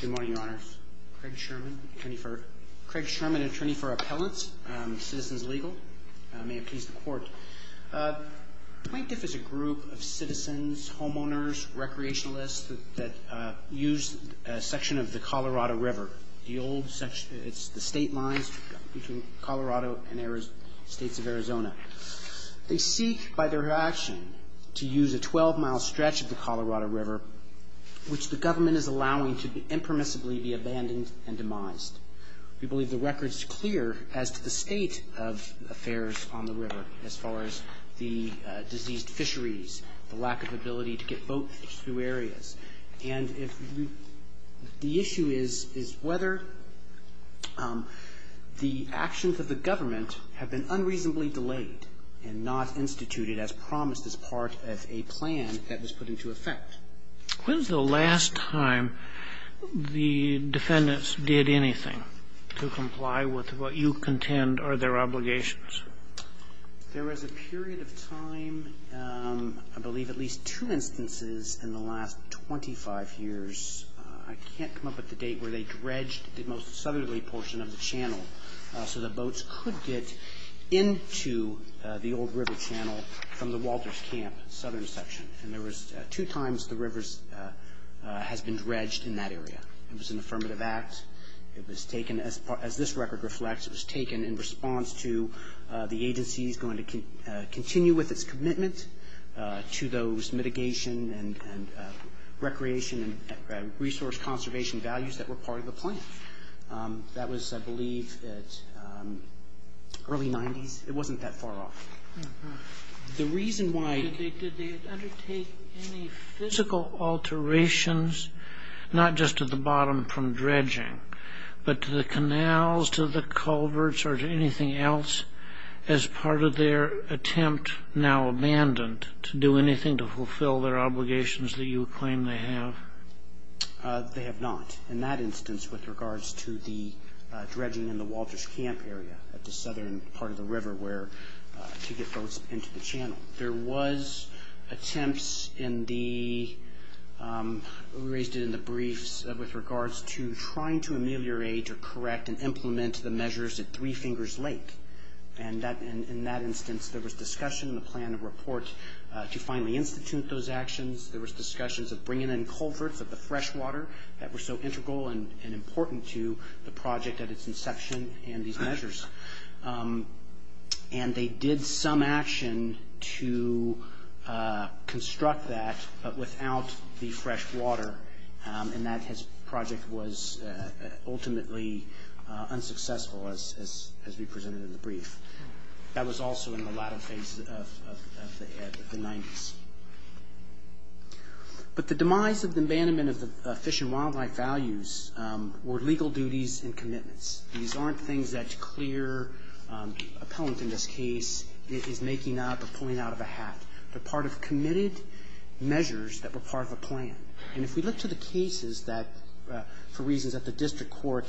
Good morning, Your Honor. Craig Sherman, attorney for appellants, Citizens Legal. May it please the Court. Plaintiff is a group of citizens, homeowners, recreationalists, that use a section of the Colorado River. The old section, it's the state lines between Colorado and the states of Arizona. They seek, by their action, to use a 12-mile stretch of the Colorado River, which the government is allowing to impermissibly be abandoned and demised. We believe the record is clear as to the state of affairs on the river, as far as the diseased fisheries, the lack of ability to get boats through areas. And the issue is whether the actions of the government have been unreasonably delayed and not instituted as promised as part of a plan that was put into effect. When's the last time the defendants did anything to comply with what you contend are their obligations? There was a period of time, I believe at least two instances in the last 25 years. I can't come up with a date where they dredged the most southerly portion of the channel so that boats could get into the old river channel from the Walters Camp, southern section. And there was two times the river has been dredged in that area. It was an affirmative act. It was taken, as this record reflects, it was taken in response to the agency's going to continue with its commitment to those mitigation and recreation and resource conservation values that were part of the plan. That was, I believe, early 90s. It wasn't that far off. The reason why did they undertake any physical alterations, not just at the bottom from dredging, but to the canals, to the culverts, or to anything else as part of their attempt, now abandoned, to do anything to fulfill their obligations that you claim they have? They have not, in that instance with regards to the dredging in the Walters Camp area at the southern part of the river where to get boats into the channel. There was attempts in the, raised in the briefs, with regards to trying to ameliorate or correct and implement the measures at three fingers length. And in that instance, there was discussion in the plan of reports to finally institute those actions. There was discussions of bringing in culverts of the fresh water that were so integral and important to the project at its inception and these measures. And they did some action to construct that, but without the fresh water. And that project was ultimately unsuccessful as we presented in the brief. That was also in the latter phase of the 90s. But the demise of the abandonment of the fish and wildlife values were legal duties and commitments. These aren't things that clear appellant in this case is making up or pulling out of a hat. They're part of committed measures that were part of a plan. And if you look to the cases that, for reasons that the district court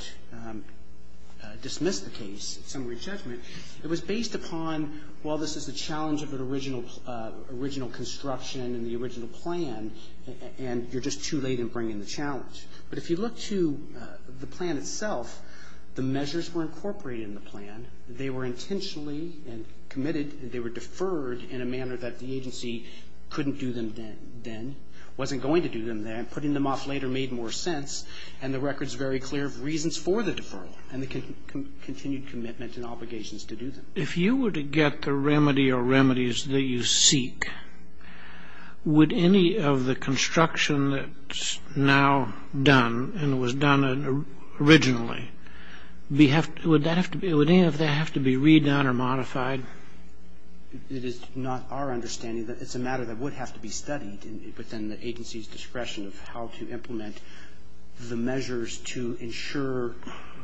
dismissed the case, some rejected it, it was based upon, well, this is the challenge of the original construction and the original plan. And you're just too late in bringing the challenge. But if you look to the plan itself, the measures were incorporated in the plan. They were intentionally committed. They were deferred in a manner that the agency couldn't do them then, wasn't going to do them then. Putting them off later made more sense. And the record's very clear of reasons for the deferral and the continued commitment and obligations to do them. If you were to get the remedy or remedies that you seek, would any of the construction that's now done and was done originally, would any of that have to be redone or modified? It is not our understanding that it's a matter that would have to be studied within the agency's discretion of how to implement the measures to ensure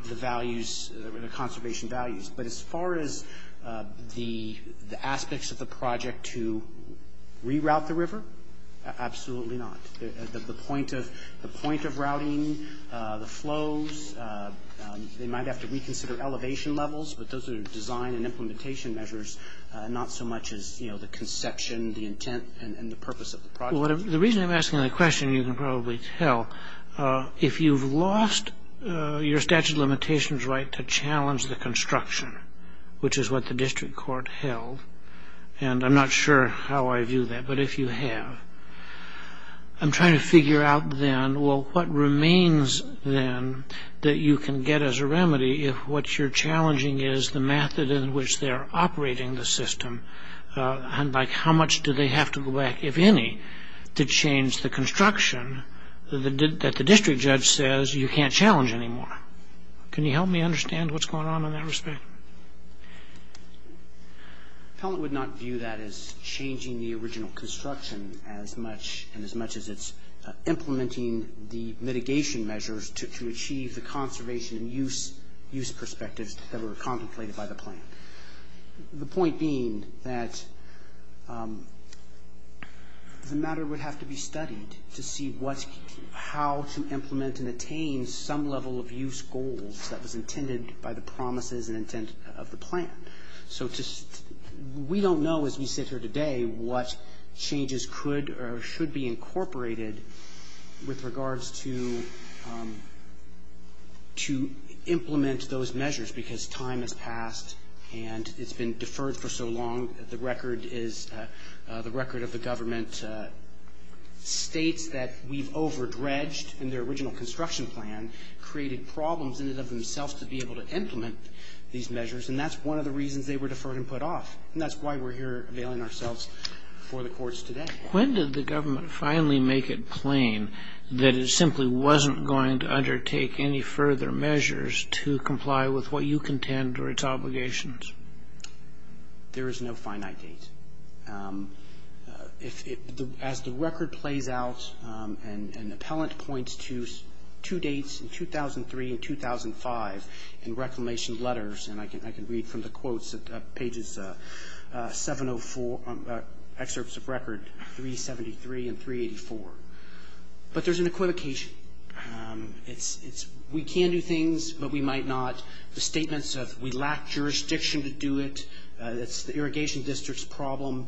the conservation values. But as far as the aspects of the project to reroute the river, absolutely not. The point of routing, the flows, they might have to reconsider elevation levels. But those are design and implementation measures, not so much as the conception, the intent, and the purpose of the project. The reason I'm asking that question, you can probably tell. If you've lost your statute of limitations right to challenge the construction, which is what the district court held, and I'm not sure how I view that, but if you have, I'm trying to figure out then, well, what remains then that you can get as a remedy if what you're challenging is the method in which they're operating the system. How much do they have to go back, if any, to change the construction that the district judge says you can't challenge anymore? Can you help me understand what's going on in that respect? I would not view that as changing the original construction as much and as much as it's implementing the mitigation measures to achieve the conservation and use perspectives that were contemplated by the plan. The point being that the matter would have to be studied to see how to implement and attain some level of use goals that was intended by the promises and intent of the plan. We don't know, as we sit here today, what changes could or should be incorporated with regards to implement those measures because time has passed and it's been deferred for so long. The record of the government states that we've over-dredged in their original construction plan, created problems in and of themselves to be able to implement these measures, and that's one of the reasons they were deferred and put off, and that's why we're here availing ourselves for the courts today. When did the government finally make it plain that it simply wasn't going to undertake any further measures to comply with what you contend were its obligations? There is no finite date. As the record plays out, an appellant points to two dates in 2003 and 2005 in reclamation letters, and I can read from the quotes at pages 704, excerpts of record 373 and 384, but there's an equivocation. It's, we can do things, but we might not. The statements of, we lack jurisdiction to do it, that's the irrigation district's problem.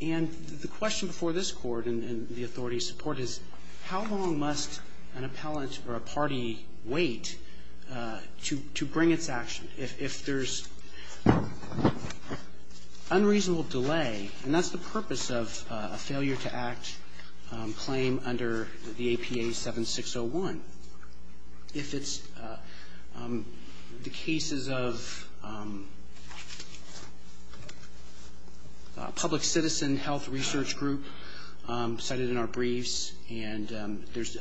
And the question before this court and the authority's support is, how long must an appellant or a party wait to bring its action? If there's unreasonable delay, and that's the purpose of a failure to act claim under the APA 7601. If it's the cases of a public citizen health research group cited in our briefs, and there's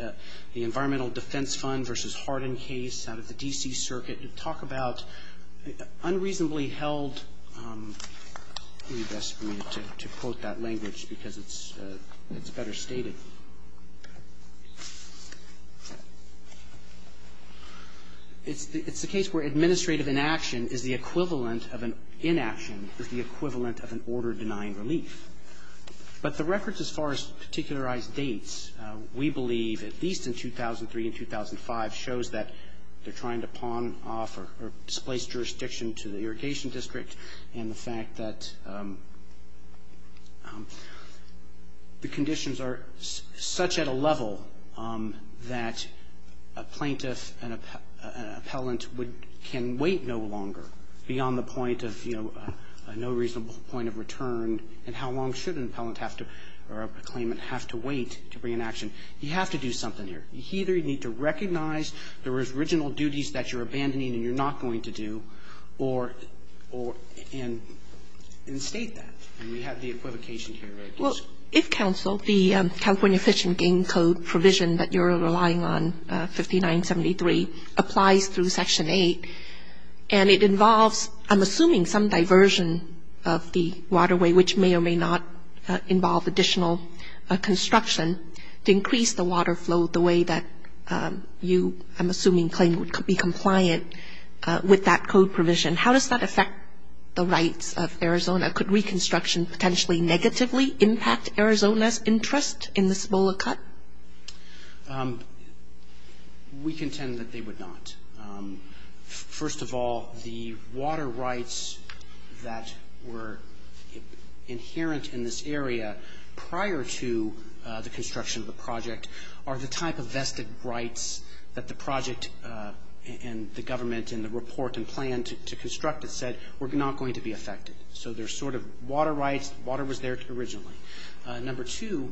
the environmental defense fund versus Hardin case out of the D.C. circuit, you talk about unreasonably held, to quote that language because it's better stated. It's a case where administrative inaction is the equivalent of an, inaction is the equivalent of an order denying relief. But the records as far as particularized dates, we believe at least in 2003 and 2005 shows that they're trying to pawn off or displace jurisdiction to the irrigation district, and the fact that the conditions are such at a level that a plaintiff and an appellant can wait no longer beyond the point of, you know, a no reasonable point of return. And how long should an appellant have to, or a claimant have to wait to bring an action? You have to do something here. You either need to recognize the original duties that you're abandoning and you're not going to do, or instate that, and you have the equivocation here. Well, if counsel, the California Fish and Game Code provision that you're relying on, 5973, applies through Section 8, and it involves, I'm assuming, some diversion of the waterway, which may or may not involve additional construction to increase the water flow the way that you, I'm assuming, claim to be compliant with that code provision. How does that affect the rights of Arizona? Could reconstruction potentially negatively impact Arizona's interest in the Cibola Cut? We contend that they would not. First of all, the water rights that were inherent in this area prior to the construction of the project are the type of vested rights that the project and the government and the report and plan to construct it said were not going to be affected. So there's sort of water rights, water was there originally. Number two,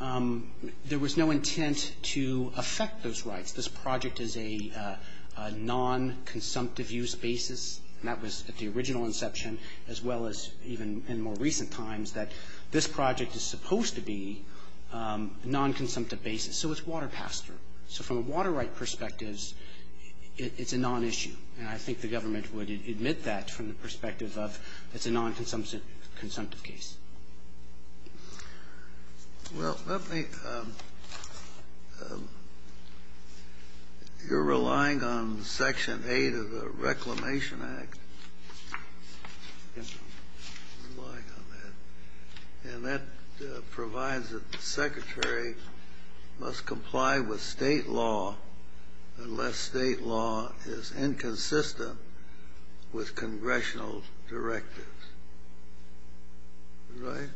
there was no intent to affect those rights. This project is a non-consumptive use basis, and that was at the original inception, as well as even in more recent times, that this project is supposed to be a non-consumptive basis, so it's water passed through. So from a water right perspective, it's a non-issue, and I think the government would admit that from the perspective of it's a non-consumptive case. Well, you're relying on Section 8 of the Reclamation Act, and that provides that the secretary must comply with state law unless state law is inconsistent with congressional directives. Right?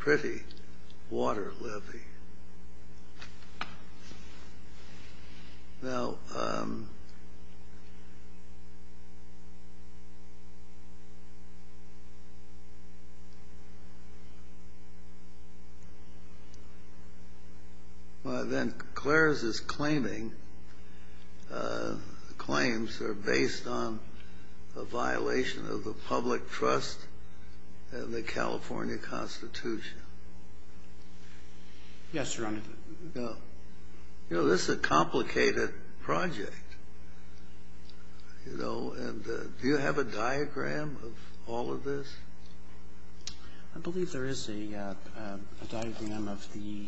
Pretty water lippy. Now, um... You know, this is a complicated project, you know, and do you have a diagram of all of this? I believe there is a diagram of the...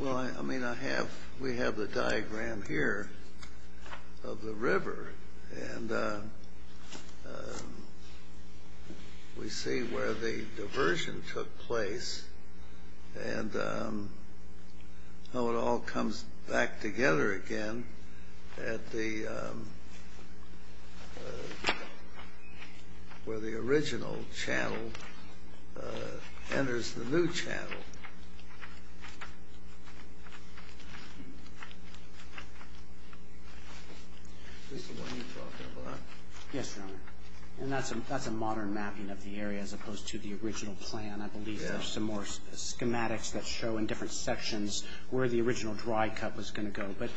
Well, I mean, we have the diagram here of the river, and we see where the diversion took place, and how it all comes back together again at the... ...enters the new channel. This is what you're talking about? Yes, Your Honor. And that's a modern mapping of the area as opposed to the original plan. I believe there are some more schematics that show in different sections where the original dry cut was going to go. But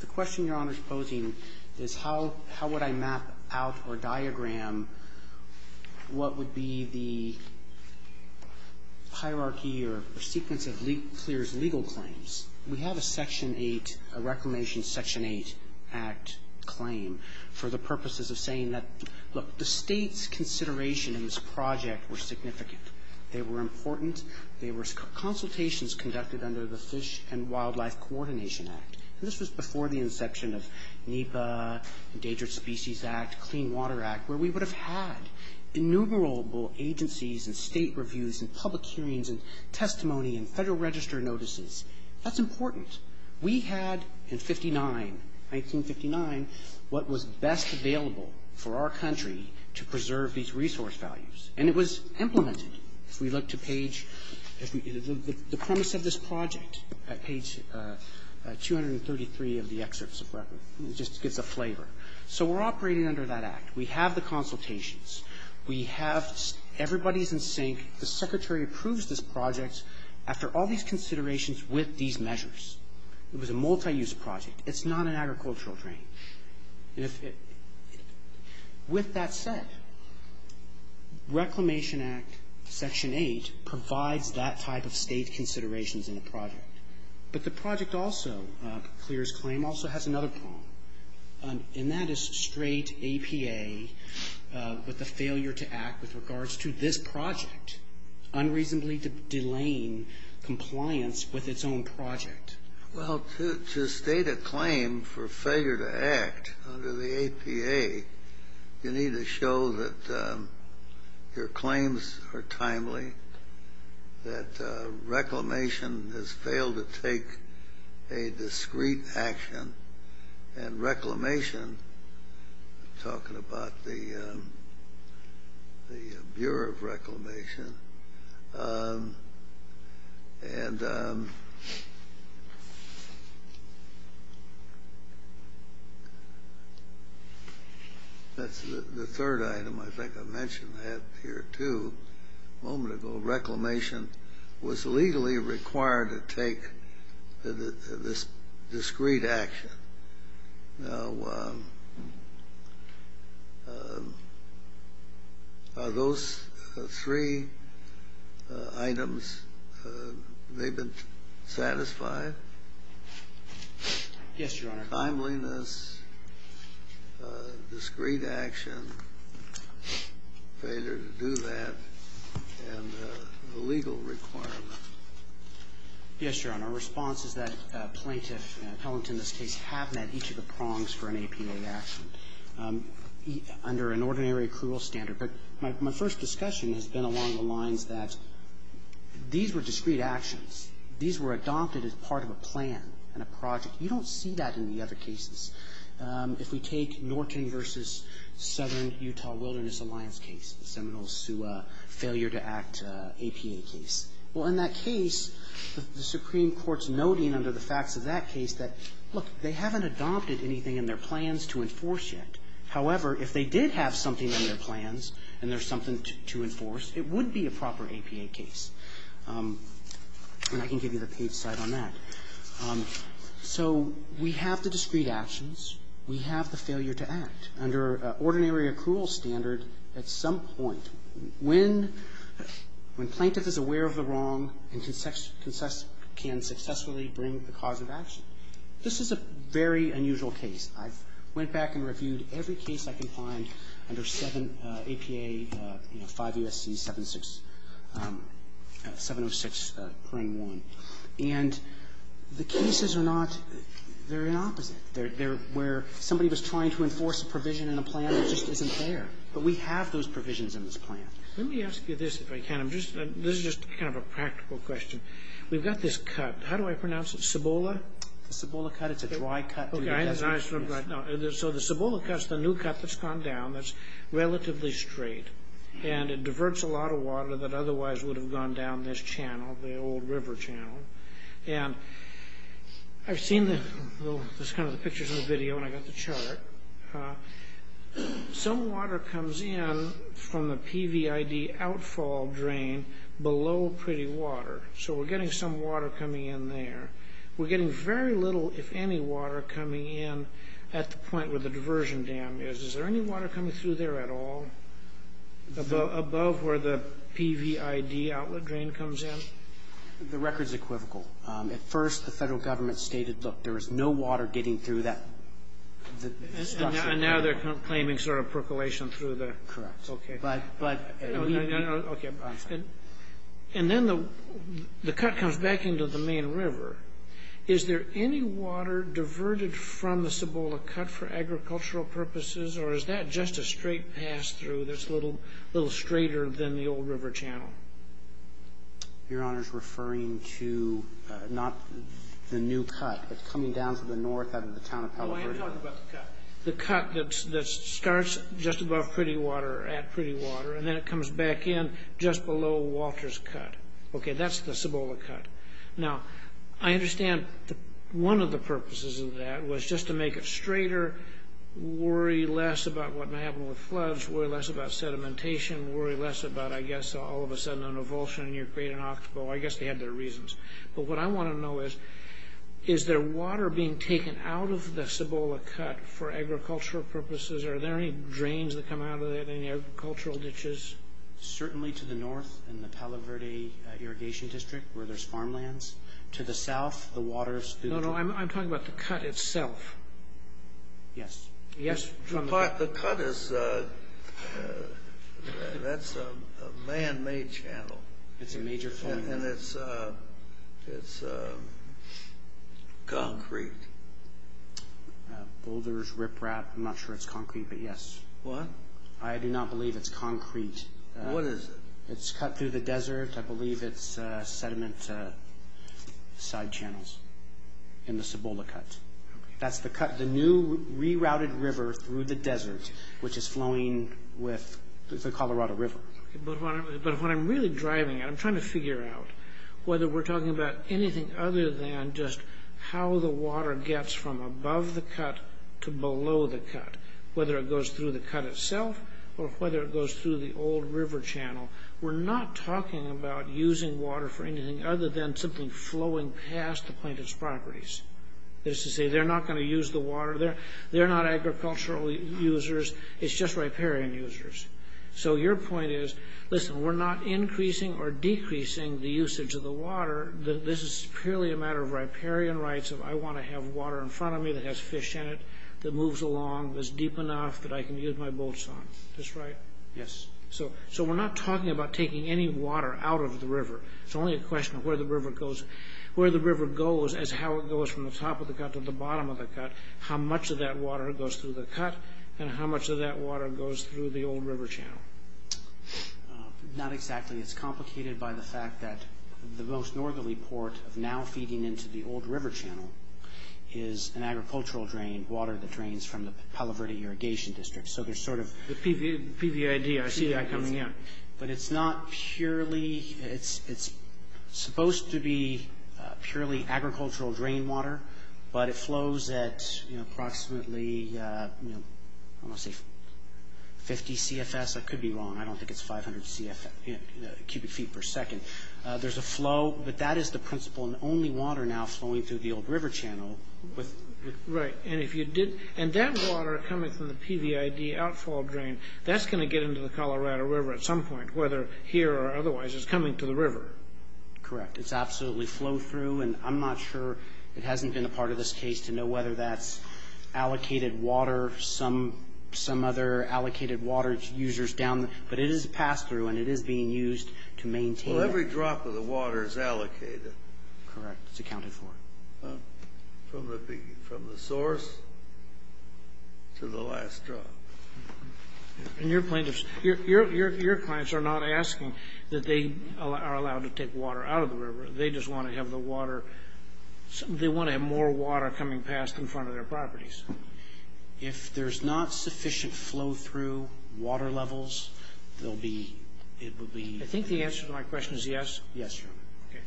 the question Your Honor's posing is how would I map out or diagram what would be the hierarchy or sequence of clear legal claims? We have a Section 8, a Reclamation Section 8 Act claim for the purposes of saying that, look, the state's consideration in this project was significant. They were important. They were consultations conducted under the Fish and Wildlife Coordination Act. This was before the inception of NEPA, Endangered Species Act, Clean Water Act, where we would have had innumerable agencies and state reviews and public hearings and testimony and federal register notices. That's important. We had in 1959 what was best available for our country to preserve these resource values, and it was implemented. If we look to page, the premise of this project at page 233 of the excerpt, just to get the flavor. So we're operating under that act. We have the consultations. We have everybody's in sync. The Secretary approves this project after all these considerations with these measures. It was a multi-use project. It's not an agricultural frame. With that said, Reclamation Act Section 8 provides that type of state considerations in the project. But the project also clears claim also has another problem, and that is straight APA with the failure to act with regards to this project, unreasonably delaying compliance with its own project. Well, to state a claim for failure to act under the APA, you need to show that your claims are timely, that Reclamation has failed to take a discreet action. And Reclamation, talking about the Bureau of Reclamation, and the third item, I think I mentioned that here too a moment ago, was legally required to take this discreet action. Now, are those three items maybe satisfied? Yes, Your Honor. Timeliness, discreet action, failure to do that, and the legal requirement. Yes, Your Honor. Our response is that plaintiff and appellant in this case happened at each of the prongs for an APA action under an ordinary accrual standard. But my first discussion has been along the lines that these were discreet actions. These were adopted as part of a plan and a project. You don't see that in the other cases. If we take Norton v. Southern Utah Wilderness Alliance case, the Seminole Sioux failure to act APA case. Well, in that case, the Supreme Court's noting under the facts of that case that, look, they haven't adopted anything in their plans to enforce yet. However, if they did have something in their plans and there was something to enforce, it would be a proper APA case. And I can give you the peace side on that. So we have the discreet actions. We have the failure to act under ordinary accrual standard at some point. When plaintiff is aware of the wrong and can successfully bring the cause of action, this is a very unusual case. I went back and reviewed every case I could find under APA 5 U.S.C. 706, Claim 1. And the cases are not very opposite. They're where somebody was trying to enforce a provision in a plan that just isn't there. But we have those provisions in this plan. Let me ask you this if I can. This is just kind of a practical question. We've got this cut. How do I pronounce it? Cibola? Cibola cut. It's a dry cut. So the Cibola cut's the new cut that's gone down that's relatively straight. And it diverts a lot of water that otherwise would have gone down this channel, the old river channel. And I've seen this kind of picture from the video when I got the chart. Some water comes in from the PVID outfall drain below pretty water. So we're getting some water coming in there. We're getting very little, if any, water coming in at the point where the diversion dam is. Is there any water coming through there at all, above where the PVID outlet drain comes in? The record's equivocal. At first, the federal government stated, look, there is no water getting through that. And now they're claiming sort of percolation through the... Correct. Okay. But... No, no, no. Okay. And then the cut comes back into the main river. Is there any water diverted from the Cibola cut for agricultural purposes? Or is that just a straight pass through that's a little straighter than the old river channel? Your Honor's referring to not the new cut. It's coming down from the north out of the town of California. Oh, I know about the cut. The cut that starts just above pretty water, at pretty water, and then it comes back in just below Walter's cut. Okay, that's the Cibola cut. Now, I understand one of the purposes of that was just to make it straighter, worry less about what may happen with floods, worry less about sedimentation, worry less about, I guess, all of a sudden an avulsion and you're paid an octopo. I guess they had their reasons. But what I want to know is, is there water being taken out of the Cibola cut for agricultural purposes? Are there any drains that come out of it, any agricultural ditches? Certainly to the north in the Talaverde Irrigation District where there's farmlands. To the south, the water's through the- No, no, I'm talking about the cut itself. Yes. Yes, from the cut. But the cut is, that's a man-made channel. It's a major channel. And it's concrete. Boulders, riprap, I'm not sure it's concrete, but yes. What? I do not believe it's concrete. What is it? It's cut through the desert. I believe it's sediment side channels in the Cibola cuts. That's the cut, the new rerouted river through the desert, which is flowing with the Colorado River. But what I'm really driving at, I'm trying to figure out whether we're talking about anything other than just how the water gets from above the cut to below the cut, whether it goes through the cut itself or whether it goes through the old river channel. We're not talking about using water for anything other than simply flowing past the plaintiff's properties. They're not going to use the water. They're not agricultural users. It's just riparian users. So your point is, listen, we're not increasing or decreasing the usage of the water. This is purely a matter of riparian rights. I want to have water in front of me that has fish in it, that moves along, that's deep enough that I can use my boats on. Is this right? Yes. So we're not talking about taking any water out of the river. It's only a question of where the river goes. Where the river goes is how it goes from the top of the cut to the bottom of the cut, how much of that water goes through the cut, and how much of that water goes through the old river channel. Not exactly. It's complicated by the fact that the most northerly port of now feeding into the old river channel is an agricultural drain, water that drains from the Palo Verde Irrigation District. So there's sort of the PVID, RCI, coming in. But it's not purely... It's supposed to be purely agricultural drain water, but it flows at approximately 50 CFS. I could be wrong. I don't think it's 500 CFS, cubic feet per second. There's a flow, but that is the principle, and only water now flowing through the old river channel. Right. And that water coming from the PVID outflow drain, that's going to get into the Colorado River at some point, whether here or otherwise, it's coming to the river. Correct. It's absolutely flow-through, and I'm not sure... It hasn't been a part of this case to know whether that's allocated water, some other allocated water users down... But it is passed through, and it is being used to maintain... Well, every drop of the water is allocated. Correct. It's accounted for. From the source to the last drop. And your point is... Your clients are not asking that they are allowed to take water out of the river. They just want to have the water... They want to have more water coming past in front of their properties. If there's not sufficient flow-through water levels, there'll be... I think the answer to my question is yes. Yes. Okay.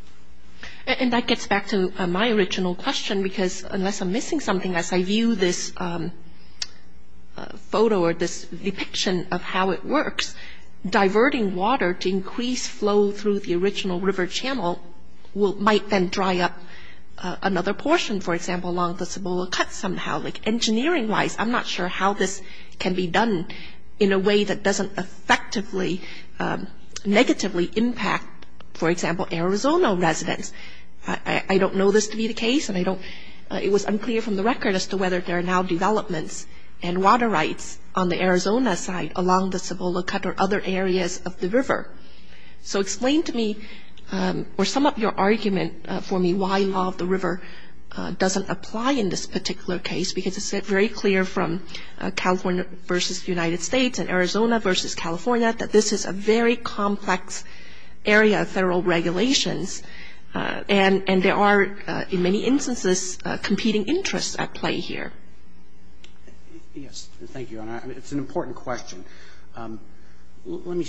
And that gets back to my original question, because unless I'm missing something as I view this photo or this depiction of how it works, diverting water to increase flow through the original river channel might then dry up another portion, for example, along the Cebola Cut somehow. Engineering-wise, I'm not sure how this can be done in a way that doesn't effectively negatively impact, for example, Arizona residents. I don't know this to be the case, and I don't... It was unclear from the record as to whether there are now developments and water rights on the Arizona side along the Cebola Cut or other areas of the river. So explain to me or sum up your argument for me why law of the river doesn't apply in this particular case, because it's very clear from California versus the United States and Arizona versus California that this is a very complex area of federal regulations, and there are, in many instances, competing interests at play here. Yes. Thank you, Your Honor. It's an important question. Let me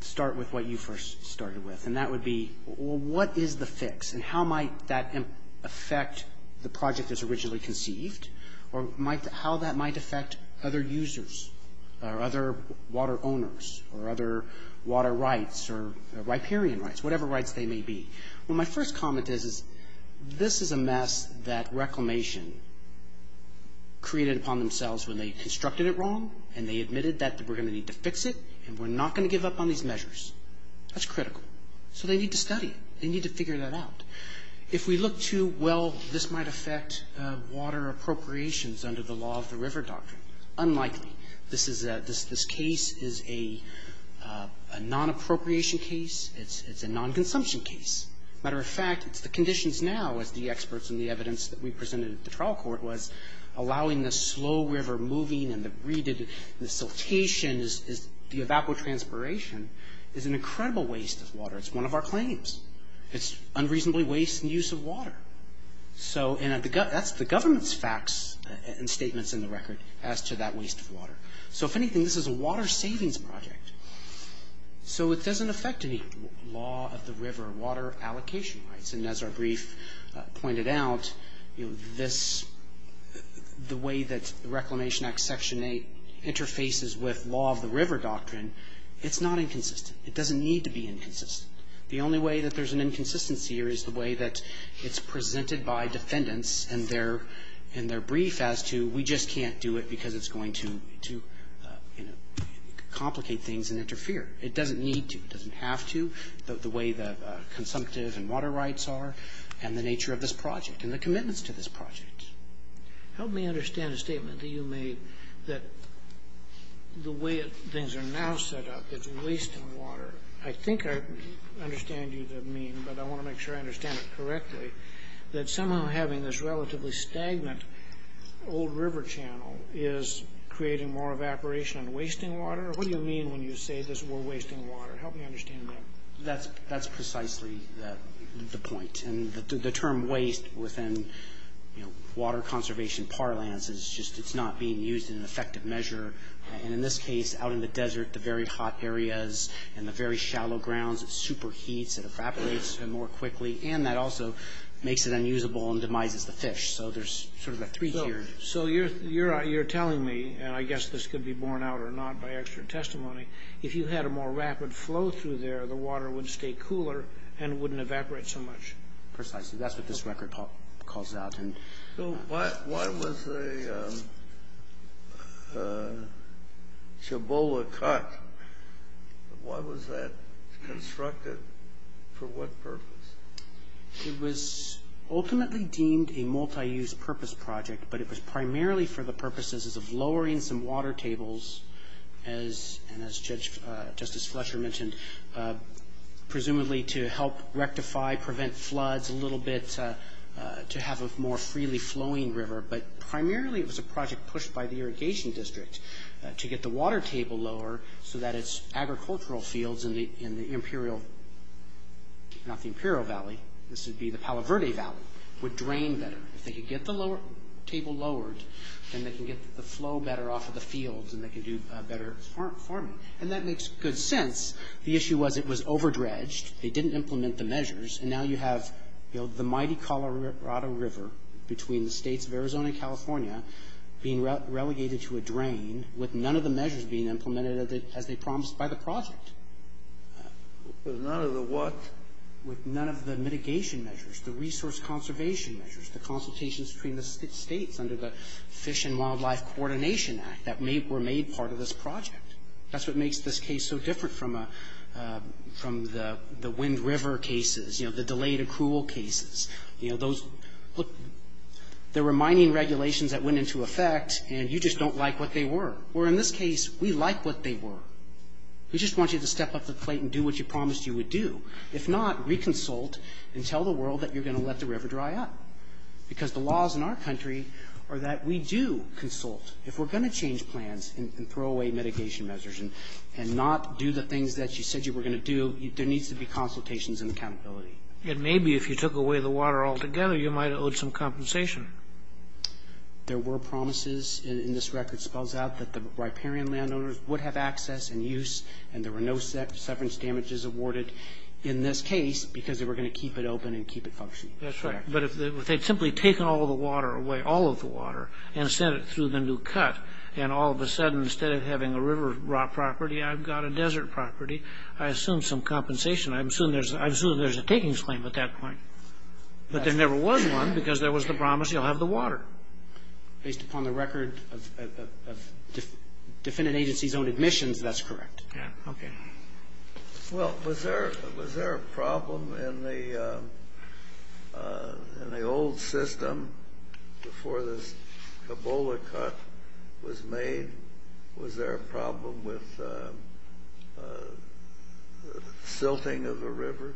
start with what you first started with, and that would be what is the fix, and how might that affect the project as originally conceived, or how that might affect other users or other water owners or other water rights or riparian rights, whatever rights they may be. Well, my first comment is this is a mess that Reclamation created upon themselves when they constructed it wrong, and they admitted that we're going to need to fix it, and we're not going to give up on these measures. That's critical. So they need to study. They need to figure that out. If we look too well, this might affect water appropriations under the Law of the River Doctrine. Unlikely. This case is a non-appropriation case. It's a non-consumption case. Matter of fact, the conditions now, as the experts and the evidence that we presented at the trial court was, allowing the slow river moving and the breeding and the siltation, the evapotranspiration, is an incredible waste of water. It's one of our claims. It's unreasonably waste and use of water. So that's the government's facts and statements in the record as to that waste of water. So if anything, this is a water savings project. So it doesn't affect the Law of the River water allocation rights. And as our brief pointed out, the way that the Reclamation Act Section 8 interfaces with Law of the River Doctrine, it's not inconsistent. It doesn't need to be inconsistent. The only way that there's an inconsistency here is the way that it's presented by defendants in their brief as to we just can't do it because it's going to complicate things and interfere. It doesn't need to. It doesn't have to. But the way the consumptive and water rights are and the nature of this project and the commitments to this project. Help me understand a statement that you made that the way things are now set up is a waste of water. I think I understand what you mean, but I want to make sure I understand it correctly. That somehow having this relatively stagnant old river channel is creating more evaporation and wasting water. What do you mean when you say there's more wasting water? Help me understand that. That's precisely the point. And the term waste within water conservation parlance is just it's not being used in an effective measure. And in this case, out in the desert, the very hot areas and the very shallow grounds, it super heats and evaporates more quickly. And that also makes it unusable and demises the fish. So there's sort of a three-tiered issue. So you're telling me, and I guess this could be borne out or not by extra testimony, if you had a more rapid flow through there, the water would stay cooler and wouldn't evaporate so much. Precisely. That's what this record calls out. So why was the Chabola cut? Why was that constructed? For what purpose? It was ultimately deemed a multi-use purpose project, but it was primarily for the purposes of lowering some water tables, and as Justice Fletcher mentioned, presumably to help rectify, prevent floods a little bit, to have a more freely flowing river. But primarily it was a project pushed by the Irrigation District to get the water table lower so that its agricultural fields in the Imperial, not the Imperial Valley, this would be the Palo Verde Valley, would drain better. They could get the table lowered and they could get the flow better off of the fields and they could do better farming. And that makes good sense. The issue was it was overdredged. They didn't implement the measures. And now you have the mighty Colorado River between the states of Arizona and California being relegated to a drain with none of the measures being implemented as they promised by the project. With none of the what? With none of the mitigation measures, the resource conservation measures, the consultations between the states under the Fish and Wildlife Coordination Act that were made part of this project. That's what makes this case so different from the Wind River cases, the delayed accrual cases. There were mining regulations that went into effect and you just don't like what they were. Or in this case, we like what they were. We just want you to step up to the plate and do what you promised you would do. If not, reconsult and tell the world that you're going to let the river dry up. Because the laws in our country are that we do consult. If we're going to change plans and throw away mitigation measures and not do the things that you said you were going to do, there needs to be consultations and accountability. And maybe if you took away the water altogether, you might owe some compensation. There were promises in this record, it spells out that the riparian landowners would have access and use and there were no severance damages awarded in this case because they were going to keep it open and keep it functioning. But if they'd simply taken all of the water away, all of the water, and sent it through the new cut, and all of a sudden, instead of having a river rock property, I've got a desert property, I assume some compensation. I assume there's a takings claim at that point. But there never was one because there was the promise you'll have the water. Based upon the record of defendant agencies own admissions, that's correct. Yeah. Okay. Well, was there a problem in the old system before the Ebola cut was made? Was there a problem with silting of the river?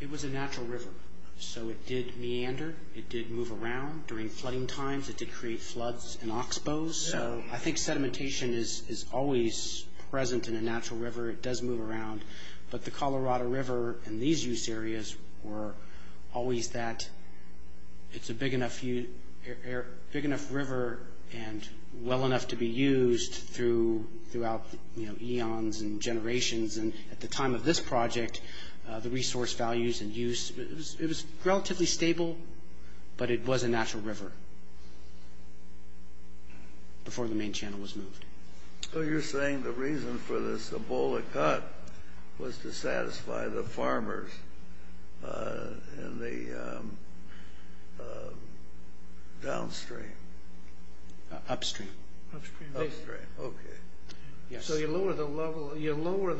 It was a natural river, so it did meander, it did move around during flooding times, it did create floods and oxbows. So I think sedimentation is always present in a natural river, it does move around. But the Colorado River and these use areas were always that, it's a big enough river and well enough to be used throughout eons and generations. And at the time of this project, the resource values and use, it was relatively stable, but it was a natural river before the main channel was moved. So you're saying the reason for this Ebola cut was to satisfy the farmers in the downstream? Upstream. Upstream, okay. So you lower the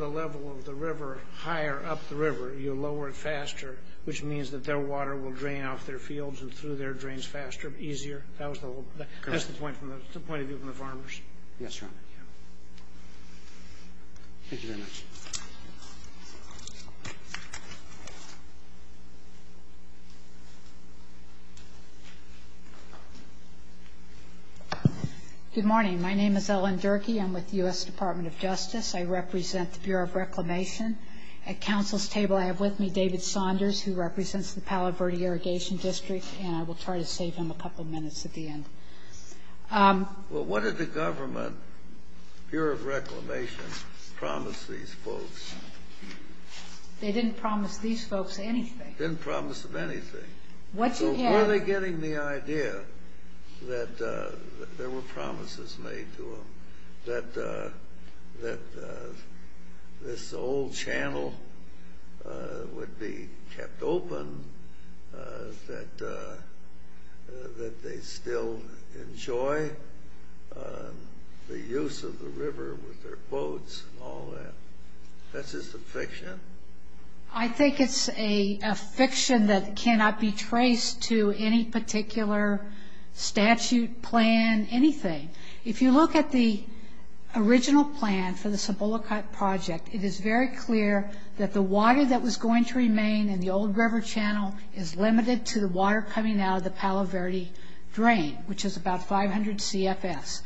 level of the river higher up the river, you lower it faster, which means that their water will drain off their fields and through their drains faster and easier? That was the point of view from the farmers? Yes, sir. Thank you very much. Thank you. Good morning. My name is Ellen Durkee. I'm with the U.S. Department of Justice. I represent the Bureau of Reclamation. At Council's table, I have with me David Saunders, who represents the Palo Verde Irrigation District, and I will try to save him a couple minutes at the end. Well, what did the government, Bureau of Reclamation, promise these folks? They didn't promise these folks anything. Didn't promise them anything. What you have... Before they're getting the idea that there were promises made to them, that this old channel would be kept open, that they'd still enjoy the use of the river with their boats and all that. Is this a fiction? I think it's a fiction that cannot be traced to any particular statute, plan, anything. If you look at the original plan for the Cibola Cut Project, it is very clear that the water that was going to remain in the old river channel is limited to the water coming out of the Palo Verde drain, which is about 500 CFS.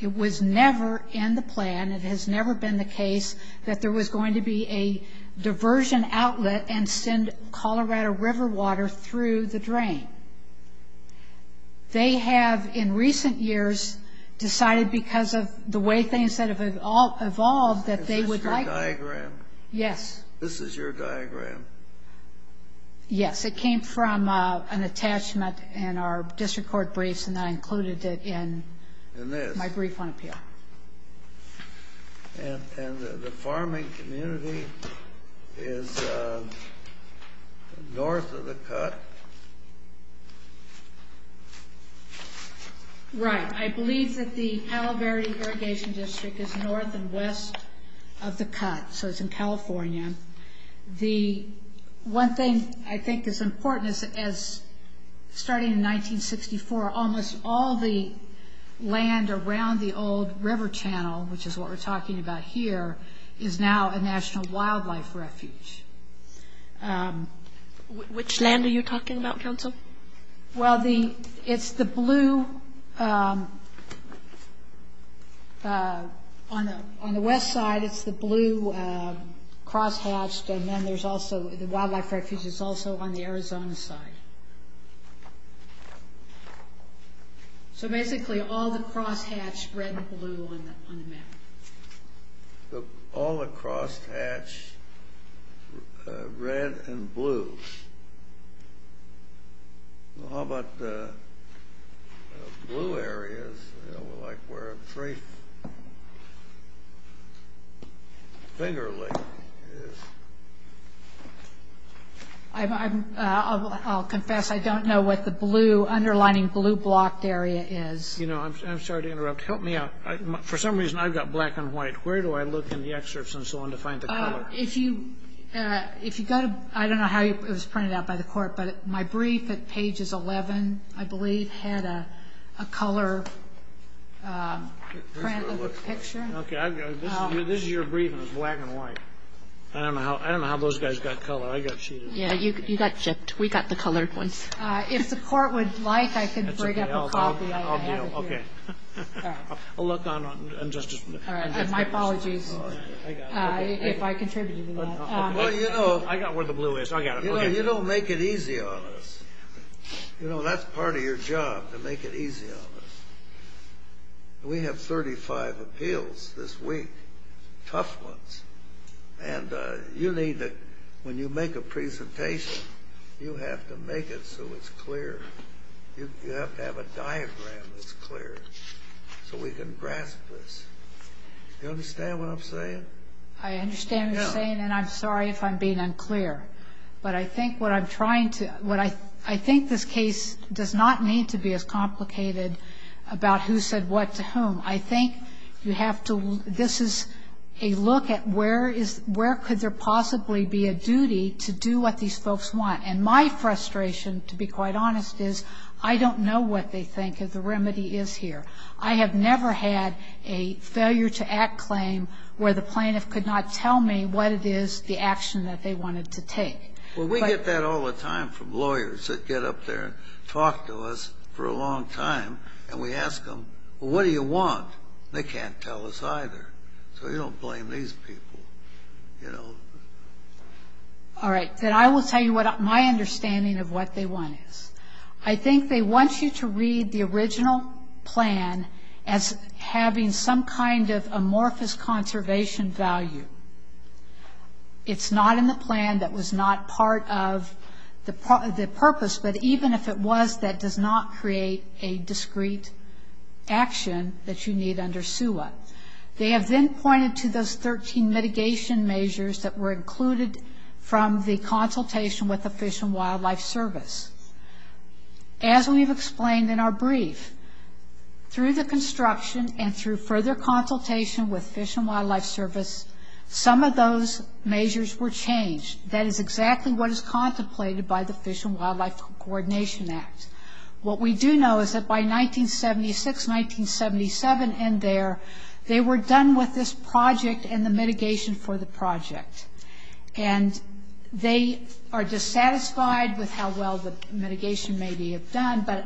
It was never in the plan. It has never been the case that there was going to be a diversion outlet and send Colorado River water through the drain. They have, in recent years, decided because of the way things have evolved that they would like... Is this your diagram? Yes. This is your diagram? Yes. It came from an attachment in our district court briefs, and I included it in my brief on appeal. The farming community is north of the cut. Right. I believe that the Palo Verde Irrigation District is north and west of the cut, so it's in California. The one thing I think is important is that starting in 1964, almost all the land around the old river channel, which is what we're talking about here, is now a National Wildlife Refuge. Which land are you talking about, Johnson? Well, it's the blue... On the west side, it's the blue crosshatched, and then there's also... The Wildlife Refuge is also on the Arizona side. So basically, all the crosshatched red and blue on the map. All the crosshatched red and blues. Well, how about the blue areas, like where the creek... Finger Lake is. I'll confess, I don't know what the blue, underlining blue-blocked area is. You know, I'm sorry to interrupt. Help me out. For some reason, I've got black and white. Where do I look in the excerpts and so on to find the color? If you... I don't know how it was printed out by the court, but my brief at pages 11, I believe, had a color printed picture. Okay, this is your brief, and it's black and white. I don't know how those guys got color. I got cheated. Yeah, you got chipped. We got the colored ones. If the court would like, I can bring up a copy of it here. Okay. I'll look on and just... All right, and my apologies, if I contributed a little. Well, you know, I got where the blue is. You know, you don't make it easy on us. You know, that's part of your job, to make it easy on us. We have 35 appeals this week, tough ones, and you need to... When you make a presentation, you have to make it so it's clear. You have to have a diagram that's clear so we can grasp this. Do you understand what I'm saying? I understand what you're saying, and I'm sorry if I'm being unclear, but I think what I'm trying to... I think this case does not need to be as complicated about who said what to whom. I think you have to... This is a look at where could there possibly be a duty to do what these folks want, and my frustration, to be quite honest, is I don't know what they think if the remedy is here. I have never had a failure-to-act claim where the plaintiff could not tell me what it is, the action that they wanted to take. Well, we get that all the time from lawyers that get up there and talk to us for a long time, and we ask them, well, what do you want? They can't tell us either, so you don't blame these people, you know? All right, then I will tell you what my understanding of what they want is. I think they want you to read the original plan as having some kind of amorphous conservation value. It's not in the plan that was not part of the purpose, but even if it was, that does not create a discrete action that you need under SUA. They have then pointed to those 13 mitigation measures that were included from the consultation with the Fish and Wildlife Service. As we've explained in our brief, through the construction and through further consultation with Fish and Wildlife Service, some of those measures were changed. That is exactly what is contemplated by the Fish and Wildlife Coordination Act. What we do know is that by 1976, 1977 and there, they were done with this project and the mitigation for the project. And they are dissatisfied with how well the mitigation may be done, but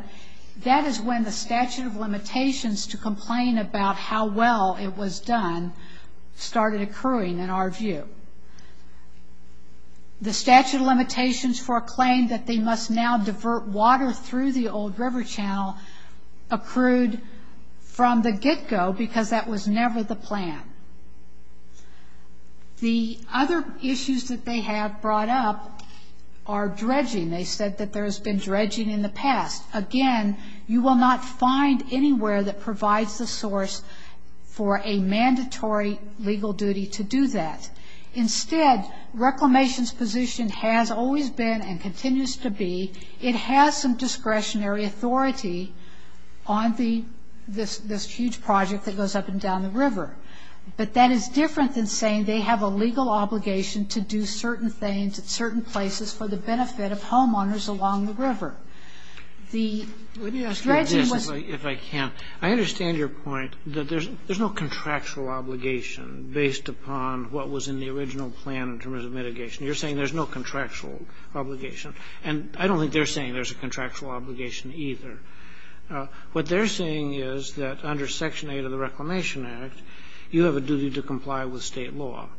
that is when the statute of limitations to complain about how well it was done started occurring in our view. The statute of limitations for a claim that they must now divert water through the old river channel accrued from the get-go because that was never the plan. The other issues that they have brought up are dredging. They said that there has been dredging in the past. Again, you will not find anywhere that provides the source for a mandatory legal duty to do that. Instead, Reclamation's position has always been and continues to be, it has some discretionary authority on this huge project that goes up and down the river. But that is different than saying they have a legal obligation to do certain things at certain places for the benefit of homeowners along the river. The dredging was... If I can, I understand your point that there is no contractual obligation based upon what was in the original plan in terms of mitigation. You are saying there is no contractual obligation. And I don't think they are saying there is a contractual obligation either. What they are saying is that under Section 8 of the Reclamation Act, you have a duty to comply with state law.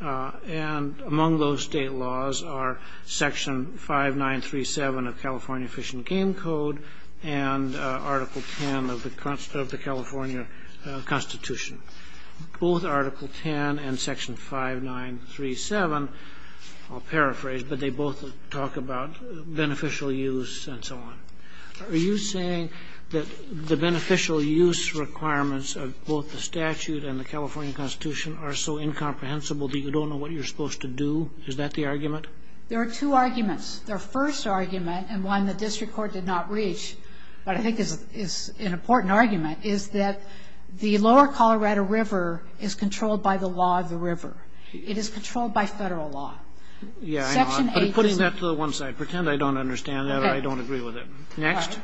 And among those state laws are Section 5937 of the California Fish and Game Code and Article 10 of the California Constitution. Both Article 10 and Section 5937, I will paraphrase, but they both talk about beneficial use and so on. Are you saying that the beneficial use requirements of both the statute and the California Constitution are so incomprehensible that you don't know what you are supposed to do? Is that the argument? There are two arguments. The first argument, and one the district court did not reach, but I think it's an important argument, is that the lower Colorado River is controlled by the law of the river. It is controlled by federal law. Yeah, I know. I'm putting that to the one side. Pretend I don't understand that or I don't agree with it. Next.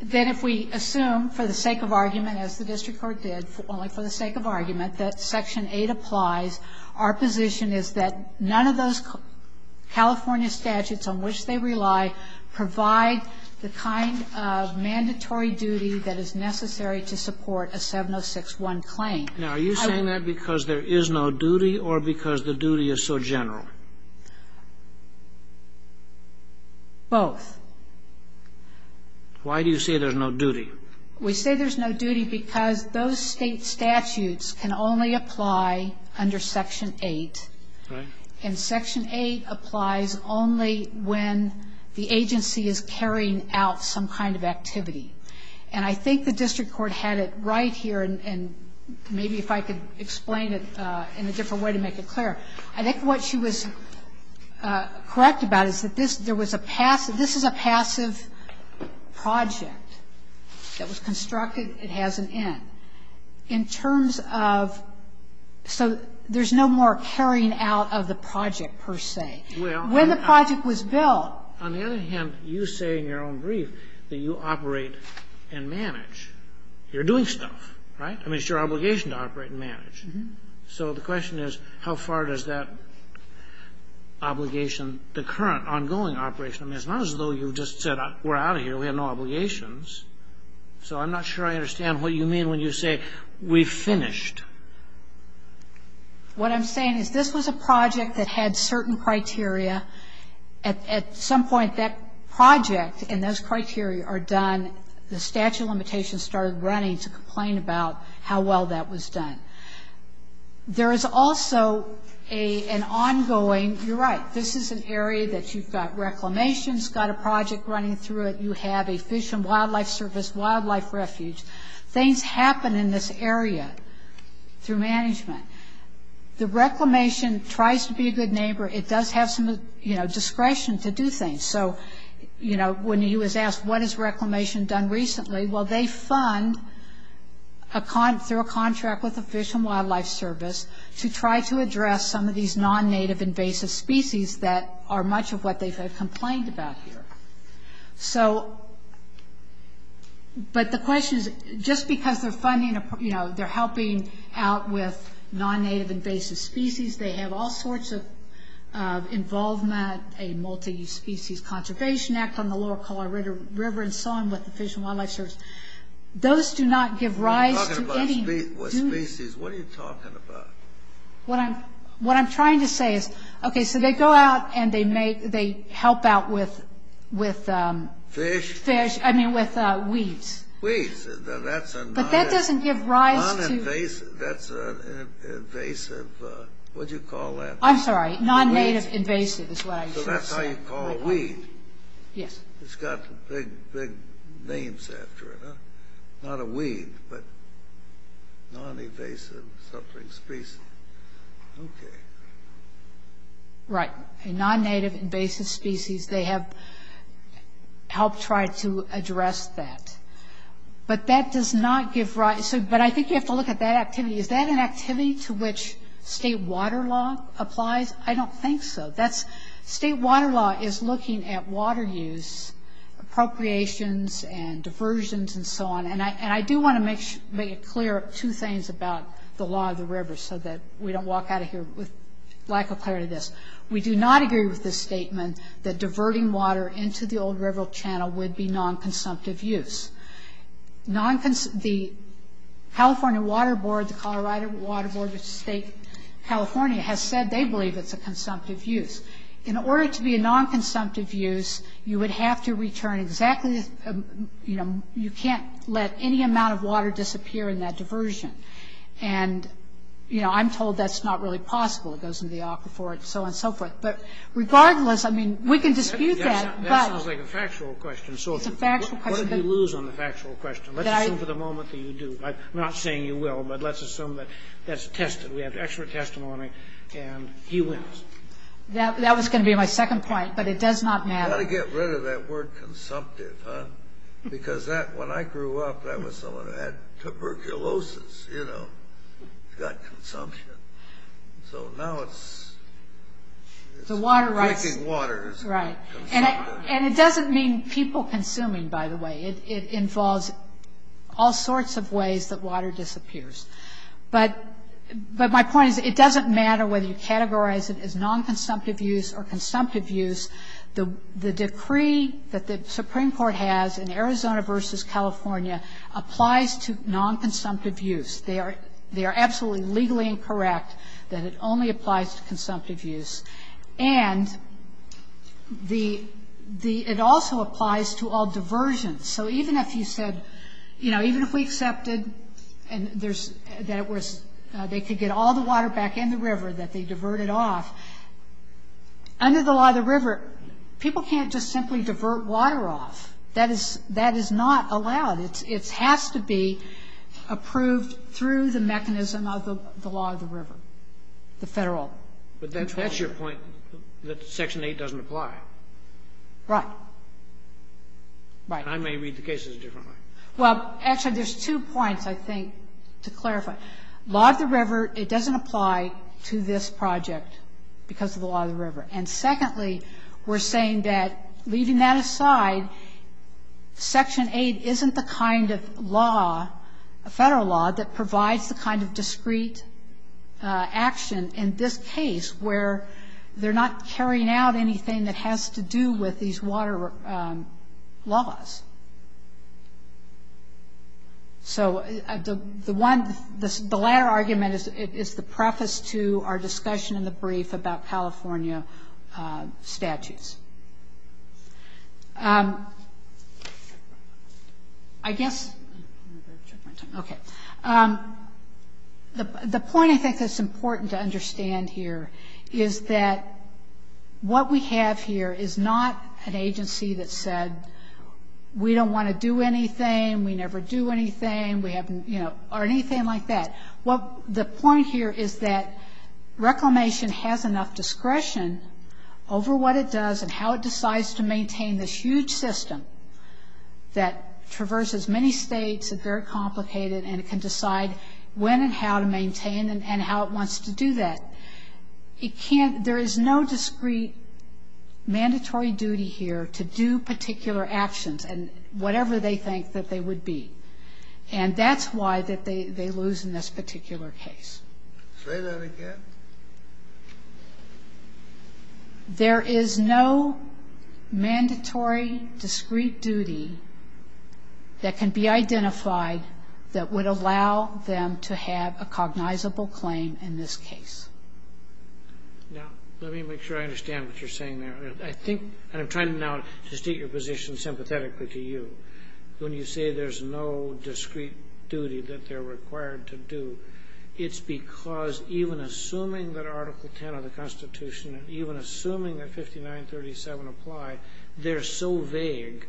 Then if we assume, for the sake of argument, as the district court did, only for the sake of argument, that Section 8 applies, our position is that none of those California statutes on which they rely provide the kind of mandatory duty that is necessary to support a 706-1 claim. Now, are you saying that because there is no duty or because the duty is so general? Both. Why do you say there's no duty? We say there's no duty because those state statutes can only apply under Section 8, and Section 8 applies only when the agency is carrying out some kind of activity, and I think the district court had it right here, and maybe if I could explain it in a different way to make it clear. I think what she was correct about is that this is a passive project that was constructed. It has an end. In terms of... So there's no more carrying out of the project, per se. When the project was built... On the other hand, you say in your own brief that you operate and manage. You're doing stuff, right? I mean, it's your obligation to operate and manage. So the question is, how far does that obligation, the current ongoing operation... I mean, it's not as though you just said, we're out of here, we have no obligations. So I'm not sure I understand what you mean when you say, we've finished. What I'm saying is, this was a project that had certain criteria. At some point, that project and those criteria are done. The statute of limitations started running to complain about how well that was done. There is also an ongoing... You're right. This is an area that you've got reclamations, got a project running through it, you have a fish and wildlife service, wildlife refuge. Things happen in this area through management. The reclamation tries to be a good neighbor. It does have some discretion to do things. So when he was asked, what has reclamation done recently? Well, they fund through a contract with the Fish and Wildlife Service to try to address some of these non-native invasive species that are much of what they've complained about here. So... But the question is, just because they're helping out with non-native invasive species, they have all sorts of involvement, a multi-species conservation act from the lower Colorado River and so on with the Fish and Wildlife Service. Those do not give rise to any... You're talking about species. What are you talking about? What I'm trying to say is, okay, so they go out and they help out with... Fish? Fish, I mean with weeds. Weeds. But that doesn't give rise to... Non-invasive. That's an invasive... What do you call that? I'm sorry. Non-native invasive is what I'm saying. So that's how you call weeds. Yes. It's got the big names after it. Not a weed, but... Non-invasive something species. Okay. Right. Non-native invasive species, they have helped try to address that. But that does not give rise... But I think you have to look at that activity. Is that an activity to which state water law applies? I don't think so. State water law is looking at water use, appropriations and diversions and so on. And I do want to make it clear, two things about the law of the river so that we don't walk out of here with lack of clarity on this. We do not agree with the statement that diverting water into the old river channel would be non-consumptive use. The California Water Board, the Colorado Water Board of State California has said they believe it's a consumptive use. In order to be a non-consumptive use, you would have to return exactly... You can't let any amount of water disappear in that diversion. And, you know, I'm told that's not really possible. It goes into the aquifer and so on and so forth. But regardless, I mean, we can dispute that. That sounds like a factual question. What did you lose on the factual question? Let's assume for the moment that you do. I'm not saying you will, but let's assume that that's attested. We have expert testimony and he wills. That was going to be my second point, but it does not matter. You got to get rid of that word consumptive, huh? Because when I grew up, I had tuberculosis, you know, gut consumption. So now it's drinking water. Right. And it doesn't mean people consuming, by the way. It involves all sorts of ways that water disappears. But my point is it doesn't matter whether you categorize it as non-consumptive use or consumptive use. The decree that the Supreme Court has in Arizona versus California applies to non-consumptive use. They are absolutely legally incorrect that it only applies to consumptive use. And it also applies to all diversions. So even if you said, you know, even if we accepted and they could get all the water back in the river that they diverted off, under the law of the river, people can't just simply divert water off. That is not allowed. It has to be approved through the mechanism of the law of the river, the federal. But that's your point, that Section 8 doesn't apply. Right. I may read the cases differently. Well, actually, there's two points, I think, to clarify. Law of the river, it doesn't apply to this project because of the law of the river. And secondly, we're saying that, leaving that aside, Section 8 isn't the kind of law, federal law, that provides the kind of discrete action in this case where they're not carrying out anything that has to do with these water laws. So the one, the latter argument is the preface to our discussion in the brief about California statutes. I guess, okay. The point I think that's important to understand here is that what we have here is not an agency that said, we don't want to do anything, we never do anything, we haven't, you know, or anything like that. Well, the point here is that Reclamation has enough discretion over what it does and how it decides to maintain this huge system that traverses many states, it's very complicated, and it can decide when and how to maintain and how it wants to do that. It can't, there is no discrete mandatory duty here to do particular actions and whatever they think that they would be. And that's why they lose in this particular case. Say that again. There is no mandatory discrete duty that can be identified that would allow them to have a cognizable claim in this case. Now, let me make sure I understand what you're saying there. I think, and I'm trying now to state your position sympathetically to you. When you say there's no discrete duty that they're required to do, it's because even assuming that Article 10 of the Constitution, even assuming that 5937 applies, they're so vague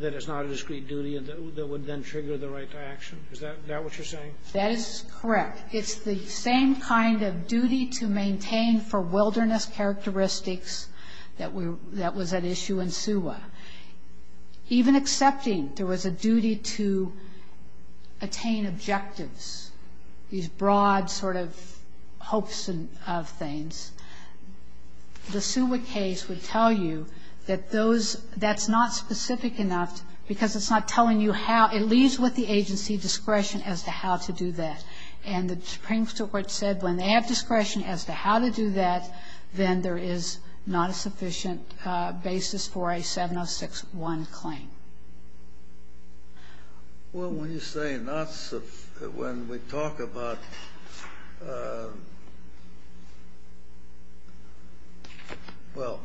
that it's not a discrete duty that would then trigger the right to action. Is that what you're saying? That is correct. It's the same kind of duty to maintain for wilderness characteristics that was at issue in SUA. Even accepting there was a duty to attain objectives, these broad sort of hopes of things, the SUA case would tell you that those, that's not specific enough because it's not telling you how, at least with the agency discretion as to how to do that. And the Supreme Court said when they have discretion as to how to do that, then there is not a sufficient basis for a 706.1 claim. Well, when you say not sufficient, when we talk about, well,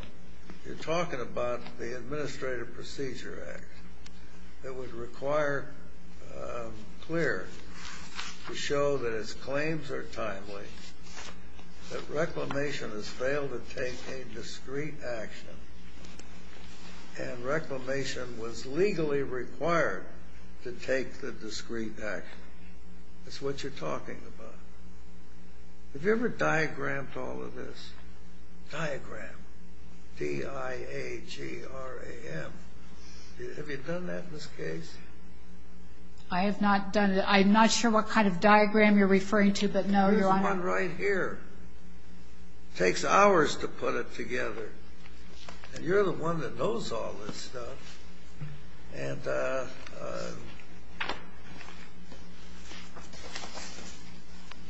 you're talking about the Administrative Procedure Act. It would require clear to show that its claims are timely, that reclamation has failed to take a discrete action, and reclamation was legally required to take the discrete action. That's what you're talking about. Have you ever diagrammed all of this? Diagram, D-I-A-G-R-A-M. Have you done that in this case? I have not done it. I'm not sure what kind of diagram you're referring to, but no. Here's one right here. Takes hours to put it together. And you're the one that knows all this stuff.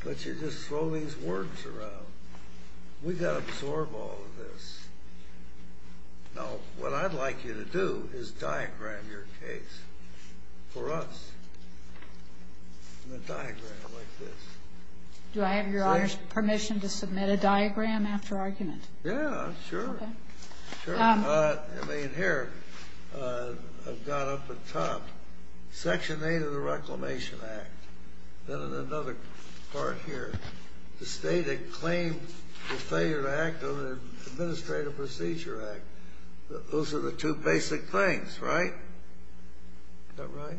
But you just throw these words around. We've got to absorb all of this. Now, what I'd like you to do is diagram your case for us in a diagram like this. Do I have your permission to submit a diagram after argument? Yeah, sure. I mean, here, I've got up at the top, Section 8 of the Reclamation Act. Then another part here. The stated claim for failure to act under the Administrative Procedure Act. Those are the two basic things, right? Is that right?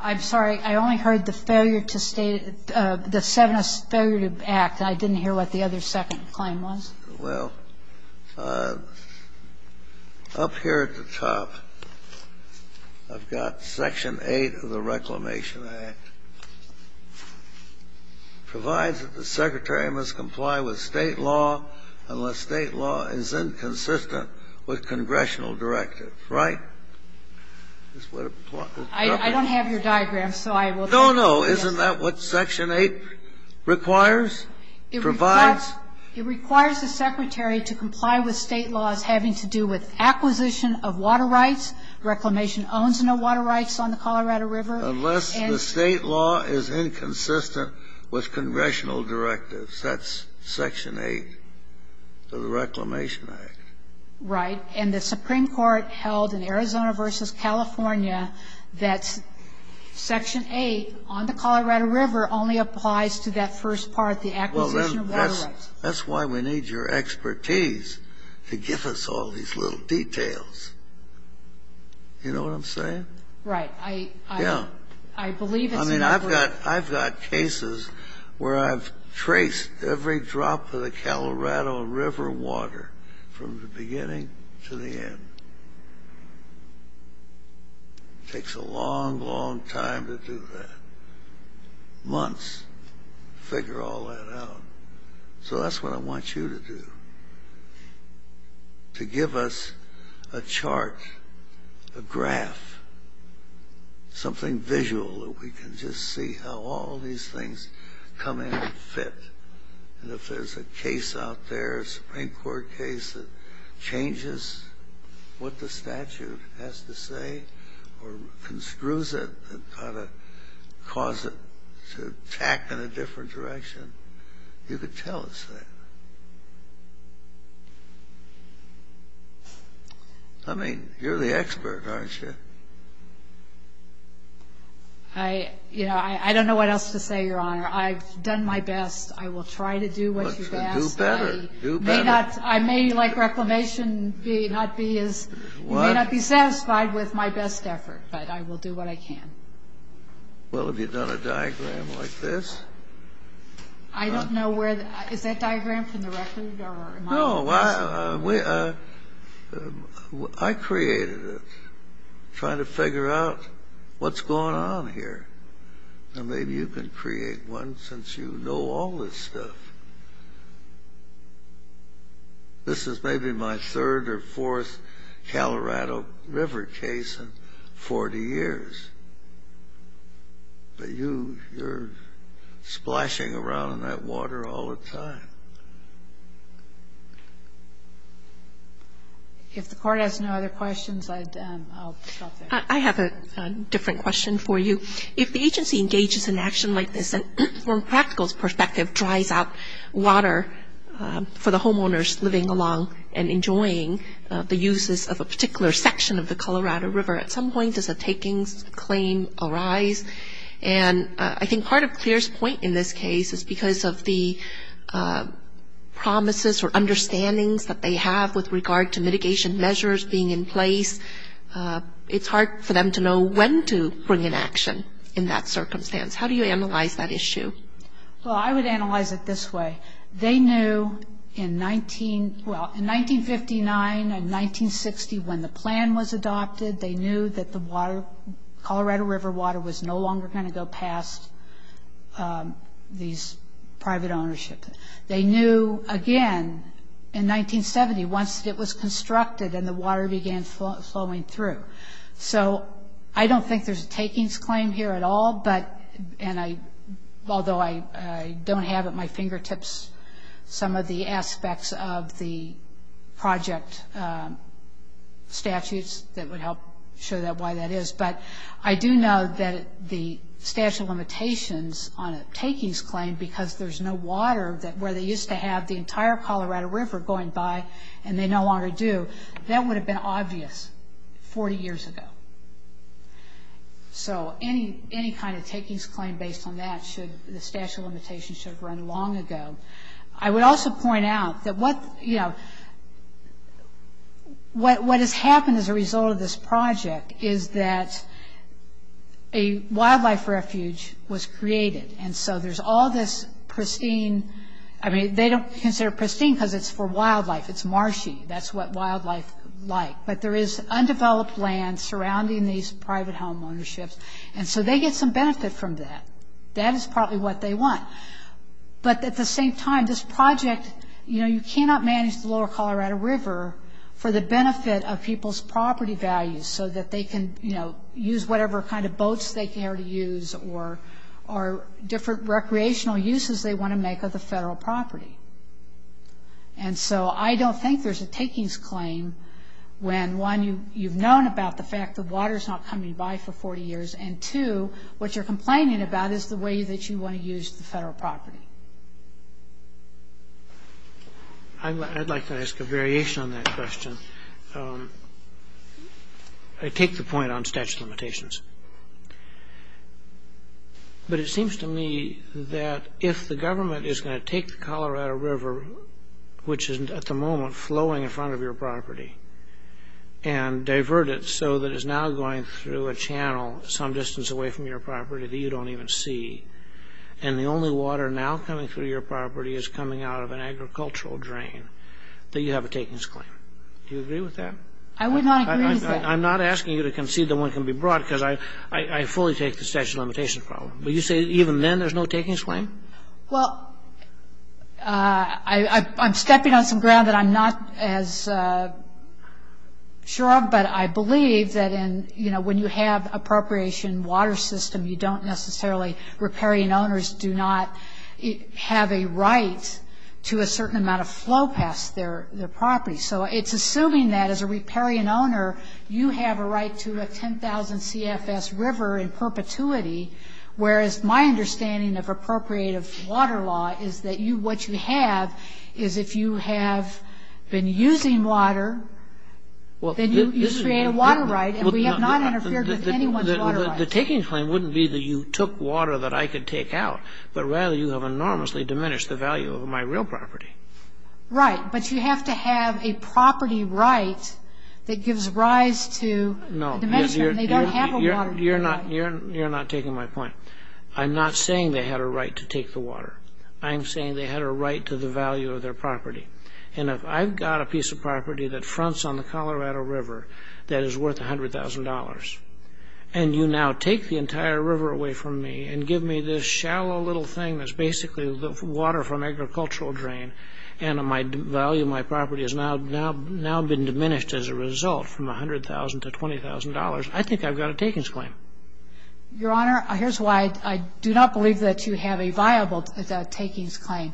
I'm sorry. I only heard the failure to state it. The 7th failure to act. I didn't hear what the other second claim was. Well, up here at the top, I've got Section 8 of the Reclamation Act. Provides that the Secretary must comply with state law unless state law is inconsistent with congressional directives. Right? I don't have your diagram, so I will take it. No, no. Isn't that what Section 8 requires? It requires the Secretary to comply with state laws having to do with acquisition of water rights. Reclamation owns no water rights on the Colorado River. Unless the state law is inconsistent with congressional directives. That's Section 8 of the Reclamation Act. Right. And the Supreme Court held in Arizona v. California that Section 8 on the Colorado River only applies to that first part, the acquisition of water rights. That's why we need your expertise to give us all these little details. You know what I'm saying? Right. I believe it. I mean, I've got cases where I've traced every drop of the Colorado River water from the beginning to the end. Takes a long, long time to do that. Months to figure all that out. So that's what I want you to do. To give us a chart, a graph, something visual that we can just see how all these things come in and fit. And if there's a case out there, a Supreme Court case that changes what the statute has to say, or conscrues it and causes it to tack in a different direction, you could tell us that. I mean, you're the expert, aren't you? I don't know what else to say, Your Honor. I've done my best. I will try to do what you ask. Do better. Do better. I may, like Reclamation, not be satisfied with my best effort. But I will do what I can. Well, have you done a diagram like this? I don't know where. Is that diagram from the record? No. I created it trying to figure out what's going on here. Maybe you can create one since you know all this stuff. This is maybe my third or fourth Colorado River case in 40 years. But you're splashing around in that water all the time. If the Court has no other questions, I'll stop there. I have a different question for you. If the agency engages in action like this, from a practical perspective, drive out water for the homeowners living along and enjoying the uses of a particular section of the Colorado River, at some point does a takings claim arise? And I think part of Claire's point in this case is because of the promises or understandings that they have with regard to mitigation measures being in place, it's hard for them to know when to bring in action in that circumstance. How do you analyze that issue? Well, I would analyze it this way. They knew in 1959 and 1960 when the plan was adopted, they knew that the Colorado River water was no longer going to go past these private ownership. They knew again in 1970 once it was constructed and the water began flowing through. So I don't think there's a takings claim here at all, although I don't have at my fingertips some of the aspects of the project statutes that would help show why that is. But I do know that the statute of limitations on a takings claim because there's no water where they used to have the entire Colorado River going by and they no longer do, that would have been obvious 40 years ago. So any kind of takings claim based on that should, the statute of limitations should have run long ago. I would also point out that what, you know, what has happened as a result of this project is that a wildlife refuge was created and so there's all this pristine, I mean they don't consider it pristine because it's for wildlife. It's marshy. That's what wildlife like. But there is undeveloped land surrounding these private homeownerships and so they get some benefit from that. That is probably what they want. But at the same time, this project, you know, you cannot manage the lower Colorado River for the benefit of people's property values so that they can, you know, use whatever kind of boats they care to use or different recreational uses they want to make of the federal property. And so I don't think there's a takings claim when one, you've known about the fact that water's not coming by for 40 years and two, what you're complaining about is the way that you want to use the federal property. I'd like to ask a variation on that question. I take the point on statute of limitations. But it seems to me that if the government is going to take the Colorado River which is at the moment flowing in front of your property and divert it so that it's now going through a channel some distance away from your property that you don't even see and the only water now coming through your property is coming out of an agricultural drain, that you have a takings claim. Do you agree with that? I would not agree with that. I'm not asking you to concede that one can be brought because I fully take the statute of limitations problem. But you say even then there's no takings claim? Well, I'm stepping on some ground that I'm not as sure of, but I believe that in, you know, when you have appropriation water system, you don't necessarily, riparian owners do not have a right to a certain amount of flow past their property. So it's assuming that as a riparian owner, you have a right to a 10,000 CFS river in perpetuity whereas my understanding of appropriative water law is that what you have is if you have been using water, then you create a water right and we have not interfered with anyone's water right. Well, the takings claim wouldn't be that you took water that I could take out, but rather you have enormously diminished the value of my real property. Right, but you have to have a property right that gives rise to dimension. No, you're not taking my point. I'm not saying they had a right to take the water. I'm saying they had a right to the value of their property. And if I've got a piece of property that fronts on the Colorado River that is worth $100,000, and you now take the entire river away from me and give me this shallow little thing that's basically water from agricultural drain and my value of my property has now been diminished as a result from $100,000 to $20,000, I think I've got a takings claim. Your Honor, here's why I do not believe that you have a viable takings claim.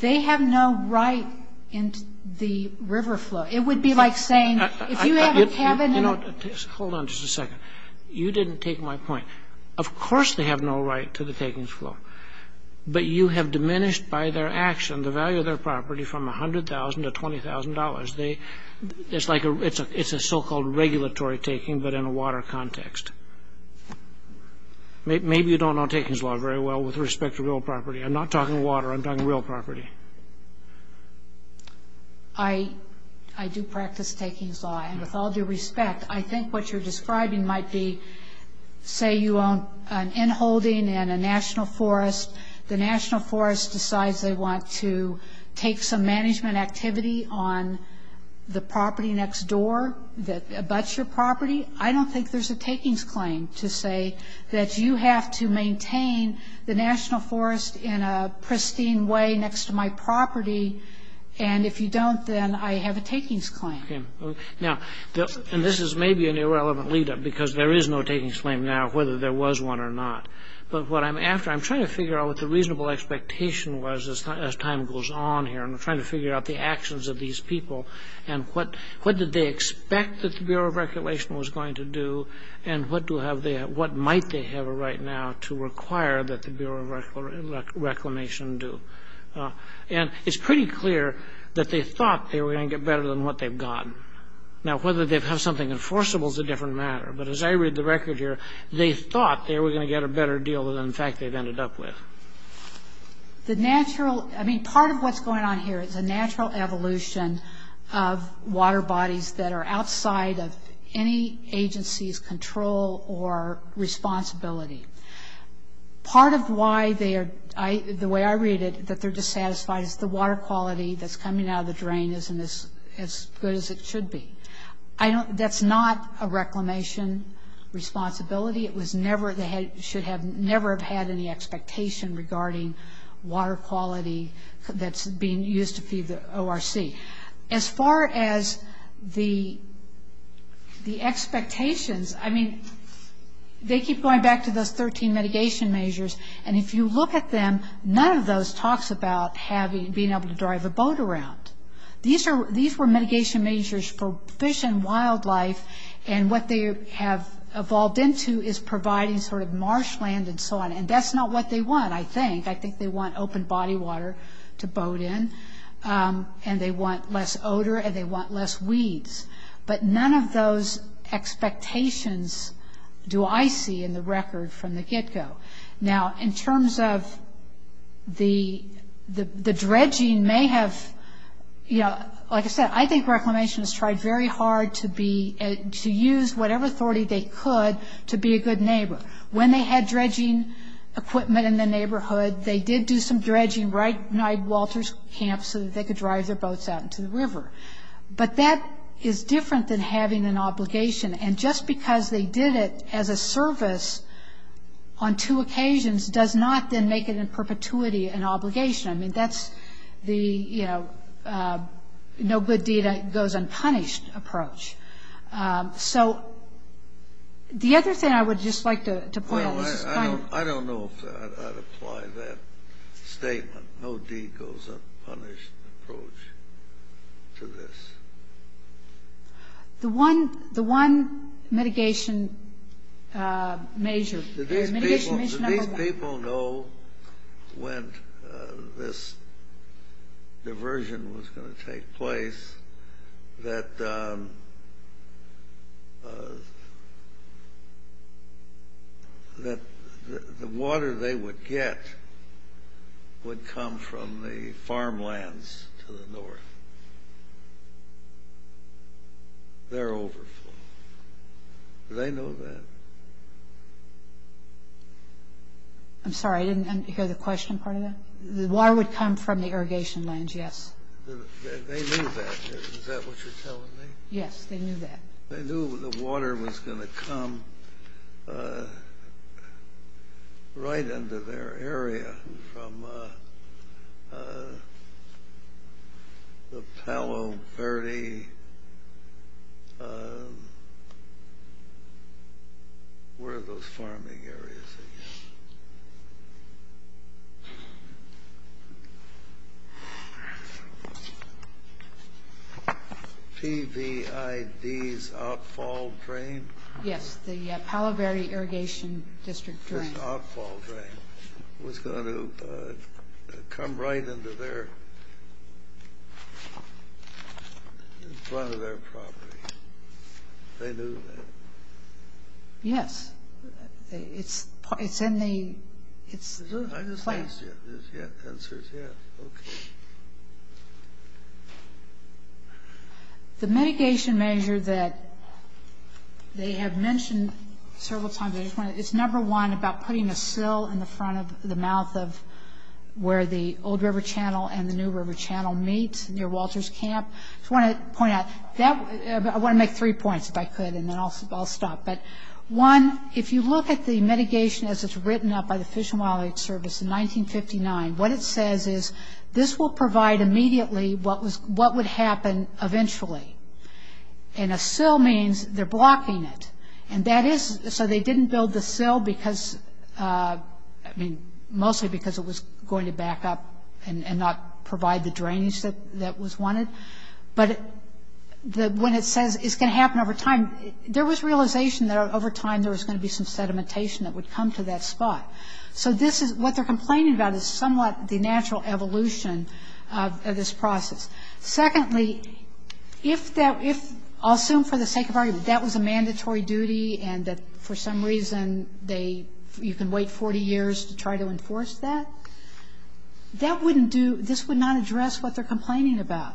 They have no right in the river flow. It would be like saying if you have a cabinet... Hold on just a second. You didn't take my point. Of course they have no right to the takings flow, but you have diminished by their action the value of their property from $100,000 to $20,000. It's a so-called regulatory taking but in a water context. Maybe you don't know takings law very well with respect to real property. I'm not talking water. I'm talking real property. I do practice takings law, and with all due respect, I think what you're describing might be say you own an inholding in a national forest. The national forest decides they want to take some management activity on the property next door that abuts your property. I don't think there's a takings claim to say that you have to maintain the national forest in a pristine way next to my property, and if you don't, then I have a takings claim. Okay. Now, and this is maybe an irrelevant lead-up because there is no takings claim now, whether there was one or not. But what I'm after, I'm trying to figure out what the reasonable expectation was as time goes on here. I'm trying to figure out the actions of these people and what did they expect that the Bureau of Regulation was going to do and what might they have right now to require that the Bureau of Reclamation do. And it's pretty clear that they thought they were going to get better than what they've gotten. Now, whether they'd have something enforceable is a different matter, but as I read the record here, they thought they were going to get a better deal than in fact they've ended up with. The natural, I mean, part of what's going on here is a natural evolution of water bodies that are outside of any agency's control or responsibility. Part of why they are, the way I read it, that they're dissatisfied with the water quality that's coming out of the drain isn't as good as it should be. I don't, that's not a reclamation responsibility. It was never, they should have never had any expectation regarding water quality that's being used to feed the ORC. As far as the expectations, I mean, they keep going back to those 13 mitigation measures and if you look at them, none of those talks about being able to drive a boat around. These were mitigation measures for fish and wildlife and what they have evolved into is providing sort of marshland and so on. And that's not what they want, I think. They want open body water to boat in and they want less odor and they want less weeds. But none of those expectations do I see in the record from the get-go. Now, in terms of the dredging may have, you know, like I said, I think reclamation has tried very hard to be, to use whatever authority they could to be a good neighbor. When they had dredging equipment in the neighborhood, they did do some dredging right by Walter's camp so that they could drive their boats out into the river. But that is different than having an obligation. And just because they did it as a service on two occasions does not then make it in perpetuity an obligation. I mean, that's the, you know, no good deed goes unpunished approach. So the other thing I would just like to point out. I don't know if I'd apply that statement, no deed goes unpunished approach to this. The one mitigation measure. Did these people know when this diversion was going to take place that the water they would get would come from the farmlands to the north? They're overflowing. Do they know that? I'm sorry, I didn't hear the question part of that. The water would come from the irrigation lands, yes. They knew that. Is that what you're telling me? Yes, they knew that. They knew the water was going to come right into their area from the Palo Verde, where are those farming areas? P-V-I-D's outfall drain? Yes, the Palo Verde Irrigation District drain. This outfall drain was going to come right into one of their properties. They knew that. Yes, it's in the... The mitigation measure that they have mentioned several times, it's number one about putting a sill in the front of the mouth of where the old river channel and the new river channel meet near Walter's Camp. I just want to point out, I want to make three points if I could and then I'll stop. One, if you look at the mitigation as it's written up by the Fish and Wildlife Service in 1959, what it says is this will provide immediately what would happen eventually. A sill means they're blocking it. That is so they didn't build the sill because, mostly because it was going to back up and not provide the drainage that was wanted. But when it says it's going to happen over time, there was realization that over time there was going to be some sedimentation that would come to that spot. What they're complaining about is somewhat the natural evolution of this process. Secondly, I'll assume for the sake of argument, that was a mandatory duty and that for some reason they, you can wait 40 years to try to enforce that. That wouldn't do, this would not address what they're complaining about.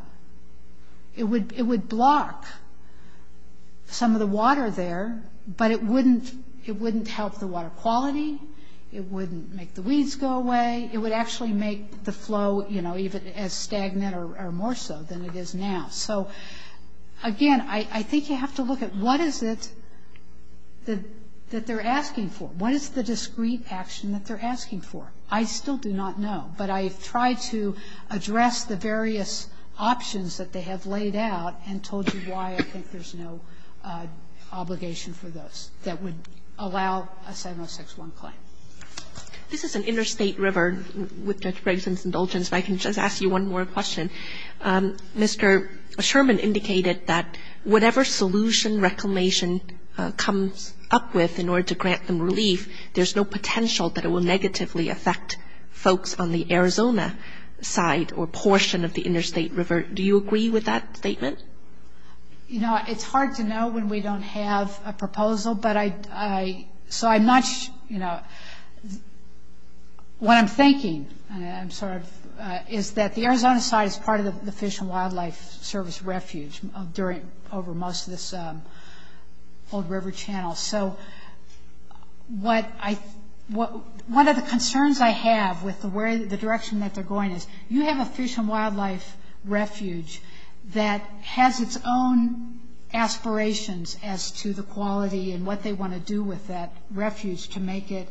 It would block some of the water there but it wouldn't help the water quality. It wouldn't make the weeds go away. It would actually make the flow, you know, even as stagnant or more so than it is now. So, again, I think you have to look at what is it that they're asking for. What is the discreet action that they're asking for? I still do not know. But I've tried to address the various options that they have laid out and told you why I think there's no obligation for those that would allow a 706-1 claim. This is an interstate river, with Judge Gregson's indulgence, but I can just ask you one more question. Mr. Sherman indicated that whatever solution reclamation comes up with in order to grant some relief, there's no potential that it will negatively affect folks on the Arizona side or portion of the interstate river. Do you agree with that statement? You know, it's hard to know when we don't have a proposal. So I'm not, you know, what I'm thinking is that the Arizona side is part of the Fish and Wildlife Service refuge over most of this old river channel. So one of the concerns I have with the direction that they're going is, you have a Fish and Wildlife refuge that has its own aspirations as to the quality and what they want to do with that refuge to make it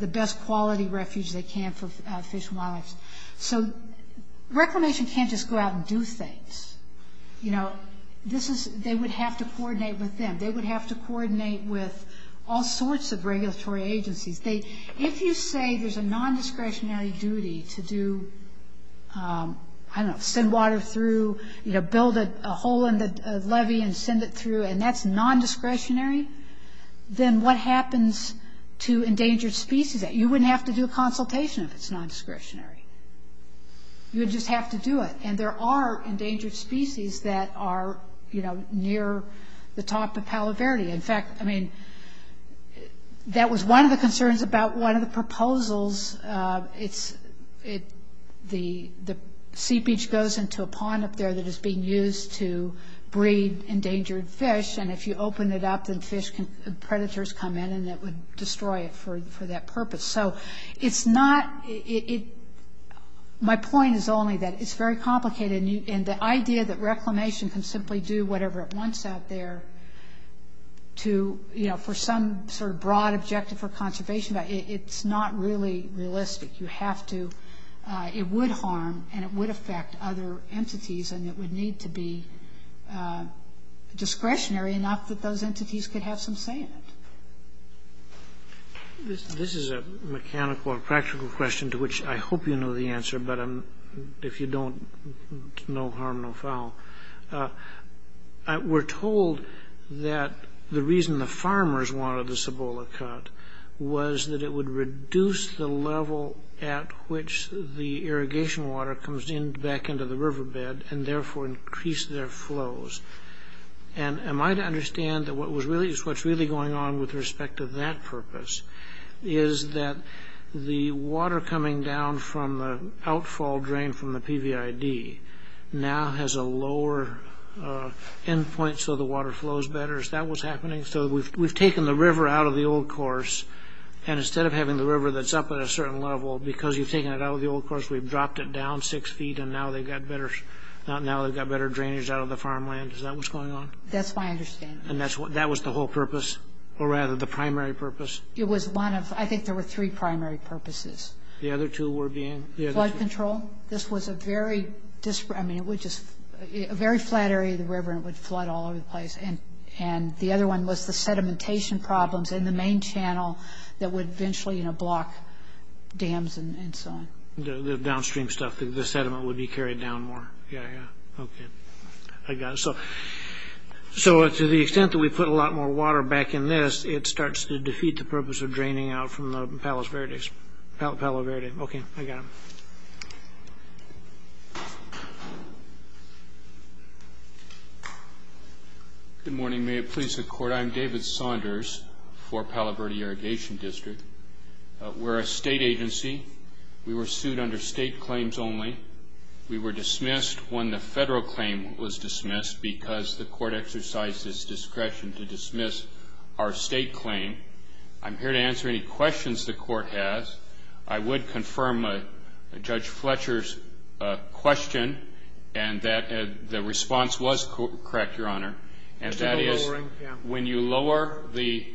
the best quality refuge they can for fish and wildlife. So reclamation can't just go out and do things. You know, this is, they would have to coordinate with them. They would have to coordinate with all sorts of regulatory agencies. If you say there's a non-discretionary duty to do, I don't know, send water through, you know, build a hole in the levee and send it through and that's non-discretionary, then what happens to endangered species? You wouldn't have to do a consultation if it's non-discretionary. You would just have to do it. And there are endangered species that are, you know, near the top of Calaverde. In fact, I mean, that was one of the concerns about one of the proposals. The sea beach goes into a pond up there that is being used to breed endangered fish. And if you open it up and fish, predators come in and it would destroy it for that purpose. So it's not, it, my point is only that it's very complicated. And the idea that reclamation can simply do whatever it wants out there to, you know, for some sort of broad objective for conservation, it's not really realistic. You have to, it would harm and it would affect other entities and it would need to be discretionary enough that those entities could have some say in it. This is a mechanical or practical question to which I hope you know the answer, but if you don't, no harm, no foul. We're told that the reason the farmers wanted this Ebola cut was that it would reduce the level at which the irrigation water comes in back into the riverbed and therefore increase their flows. And am I to understand that what was really, what's really going on with respect to that purpose is that the water coming down from the outfall drain from the PVID now has a lower end point so the water flows better. Is that what's happening? So we've taken the river out of the old course and instead of having the river that's up at a certain level, because you've taken it out of the old course, we've dropped it down six feet and now they've got better, now they've got better drainage out of the farmland. Is that what's going on? That's what I understand. And that's what, that was the whole purpose or rather the primary purpose? It was one of, I think there were three primary purposes. The other two were being? Flood control. This was a very, I mean it was just a very flat area of the river and it would flood all over the place. And the other one was the sedimentation problems in the main channel that would eventually block dams and so on. The downstream stuff, the sediment would be carried down more. Yeah, yeah, okay. I got it. So to the extent that we put a lot more water back in this, it starts to defeat the purpose of draining out from the Palo Verde. Okay, I got it. Good morning. May it please the court, I'm David Saunders for Palo Verde Irrigation District. We're a state agency. We were sued under state claims only. We were dismissed when the federal claim was dismissed because the court exercised its discretion to dismiss our state claim. I'm here to answer any questions the court has. I would confirm Judge Fletcher's question and that the response was correct, Your Honor. And that is when you lower the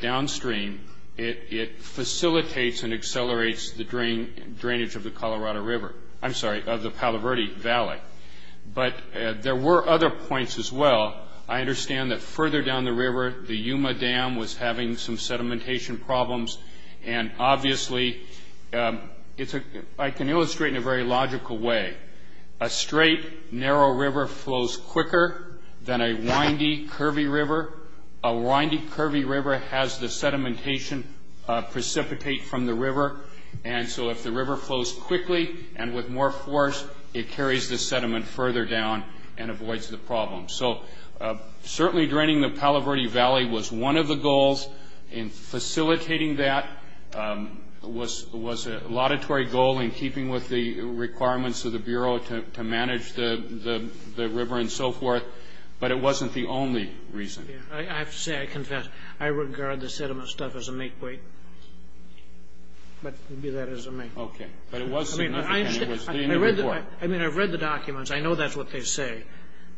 downstream, it facilitates and accelerates the drainage of the Colorado River. I'm sorry, of the Palo Verde Valley. But there were other points as well. I understand that further down the river, the Yuma Dam was having some sedimentation problems. And obviously, I can illustrate in a very logical way. A straight, narrow river flows quicker than a windy, curvy river. A windy, curvy river has the sedimentation precipitate from the river. And so if the river flows quickly and with more force, it carries the sediment further down and avoids the problem. So certainly, draining the Palo Verde Valley was one of the goals in facilitating that. It was a laudatory goal in keeping with the requirements of the Bureau to manage the river and so forth. But it wasn't the only reason. I have to say, I confess, I regard the sediment stuff as a make-believe. But it wasn't. I mean, I've read the documents. I know that's what they say.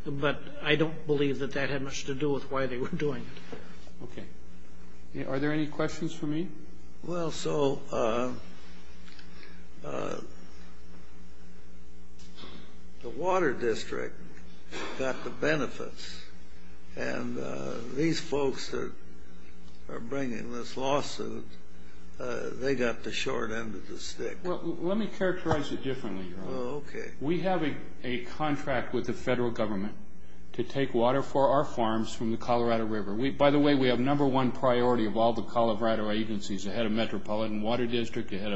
But I don't believe that that had much to do with why they were doing it. Are there any questions for me? Well, so the water district got the benefits. And these folks that are bringing this lawsuit, they got the short end of the stick. Well, let me characterize it differently. We have a contract with the federal government to take water for our farms from the Colorado River. By the way, we have number one priority of all the Colorado agencies, the head of metropolitan water district, the head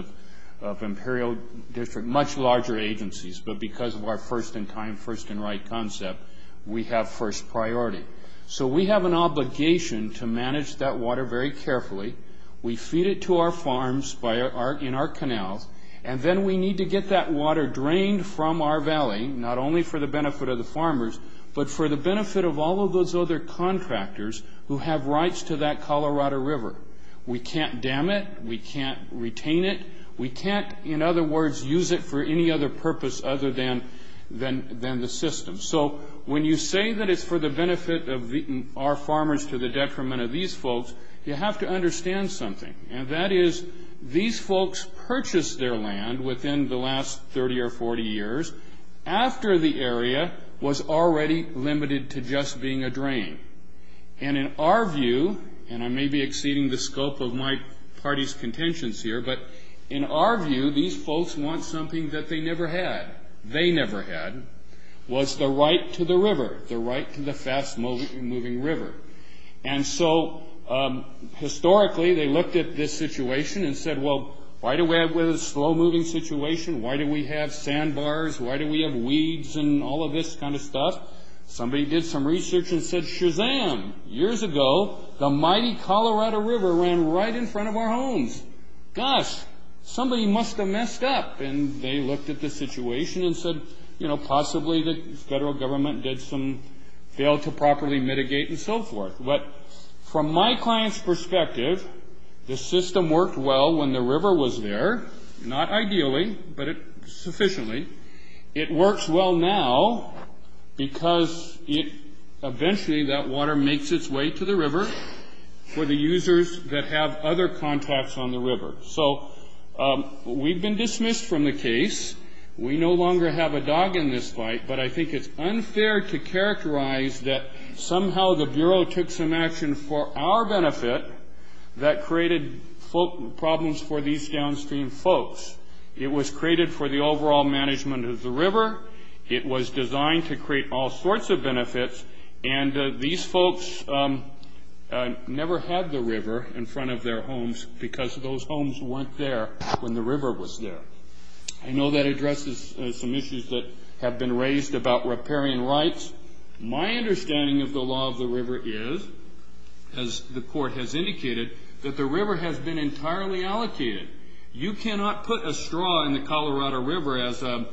of imperial district, much larger agencies. But because of our first-in-time, first-in-right concept, we have first priority. So we have an obligation to manage that water very carefully. We feed it to our farms in our canal, and then we need to get that water drained from our valley, not only for the benefit of the farmers, but for the benefit of all of those other contractors who have rights to that Colorado River. We can't dam it. We can't retain it. We can't, in other words, use it for any other purpose other than the system. So when you say that it's for the benefit of our farmers to the detriment of these folks, you have to understand something, and that is these folks purchased their land within the last 30 or 40 years after the area was already limited to just being a drain. And in our view, and I may be exceeding the scope of my party's contentions here, but in our view, these folks want something that they never had. They never had was the right to the river, the right to the fast-moving river. And so historically, they looked at this situation and said, well, why do we have this slow-moving situation? Why do we have sandbars? Why do we have weeds and all of this kind of stuff? Somebody did some research and said, Shazam, years ago, the mighty Colorado River ran right in front of our homes. Gosh, somebody must have messed up. Possibly the federal government did some, failed to properly mitigate and so forth. But from my client's perspective, the system worked well when the river was there. Not ideally, but sufficiently. It works well now because eventually that water makes its way to the river for the users that have other contacts on the river. So we've been dismissed from the case. We no longer have a dog in this fight, but I think it's unfair to characterize that somehow the Bureau took some action for our benefit that created problems for these downstream folks. It was created for the overall management of the river. It was designed to create all sorts of benefits, and these folks never had the river in front of their homes because those homes weren't there when the river was there. I know that addresses some issues that have been raised about riparian rights. My understanding of the law of the river is, as the court has indicated, that the river has been entirely allocated. You cannot put a straw in the Colorado River as an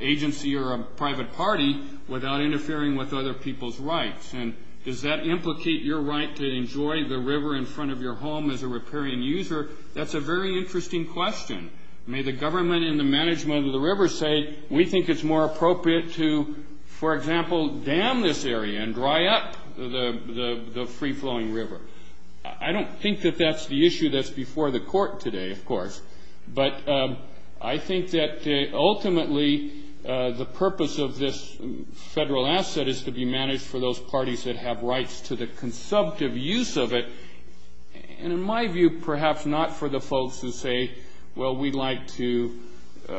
agency or a private party without interfering with other people's rights. And does that implicate your right to enjoy the river in front of your home as a riparian user? That's a very interesting question. May the government and the management of the river say, we think it's more appropriate to, for example, dam this area and dry up the free-flowing river. I don't think that that's the issue that's before the court today, of course, but I think that ultimately the purpose of this federal asset is to be managed for those parties that have rights to the consumptive use of it, and in my view, perhaps not for the folks who say, well, we like to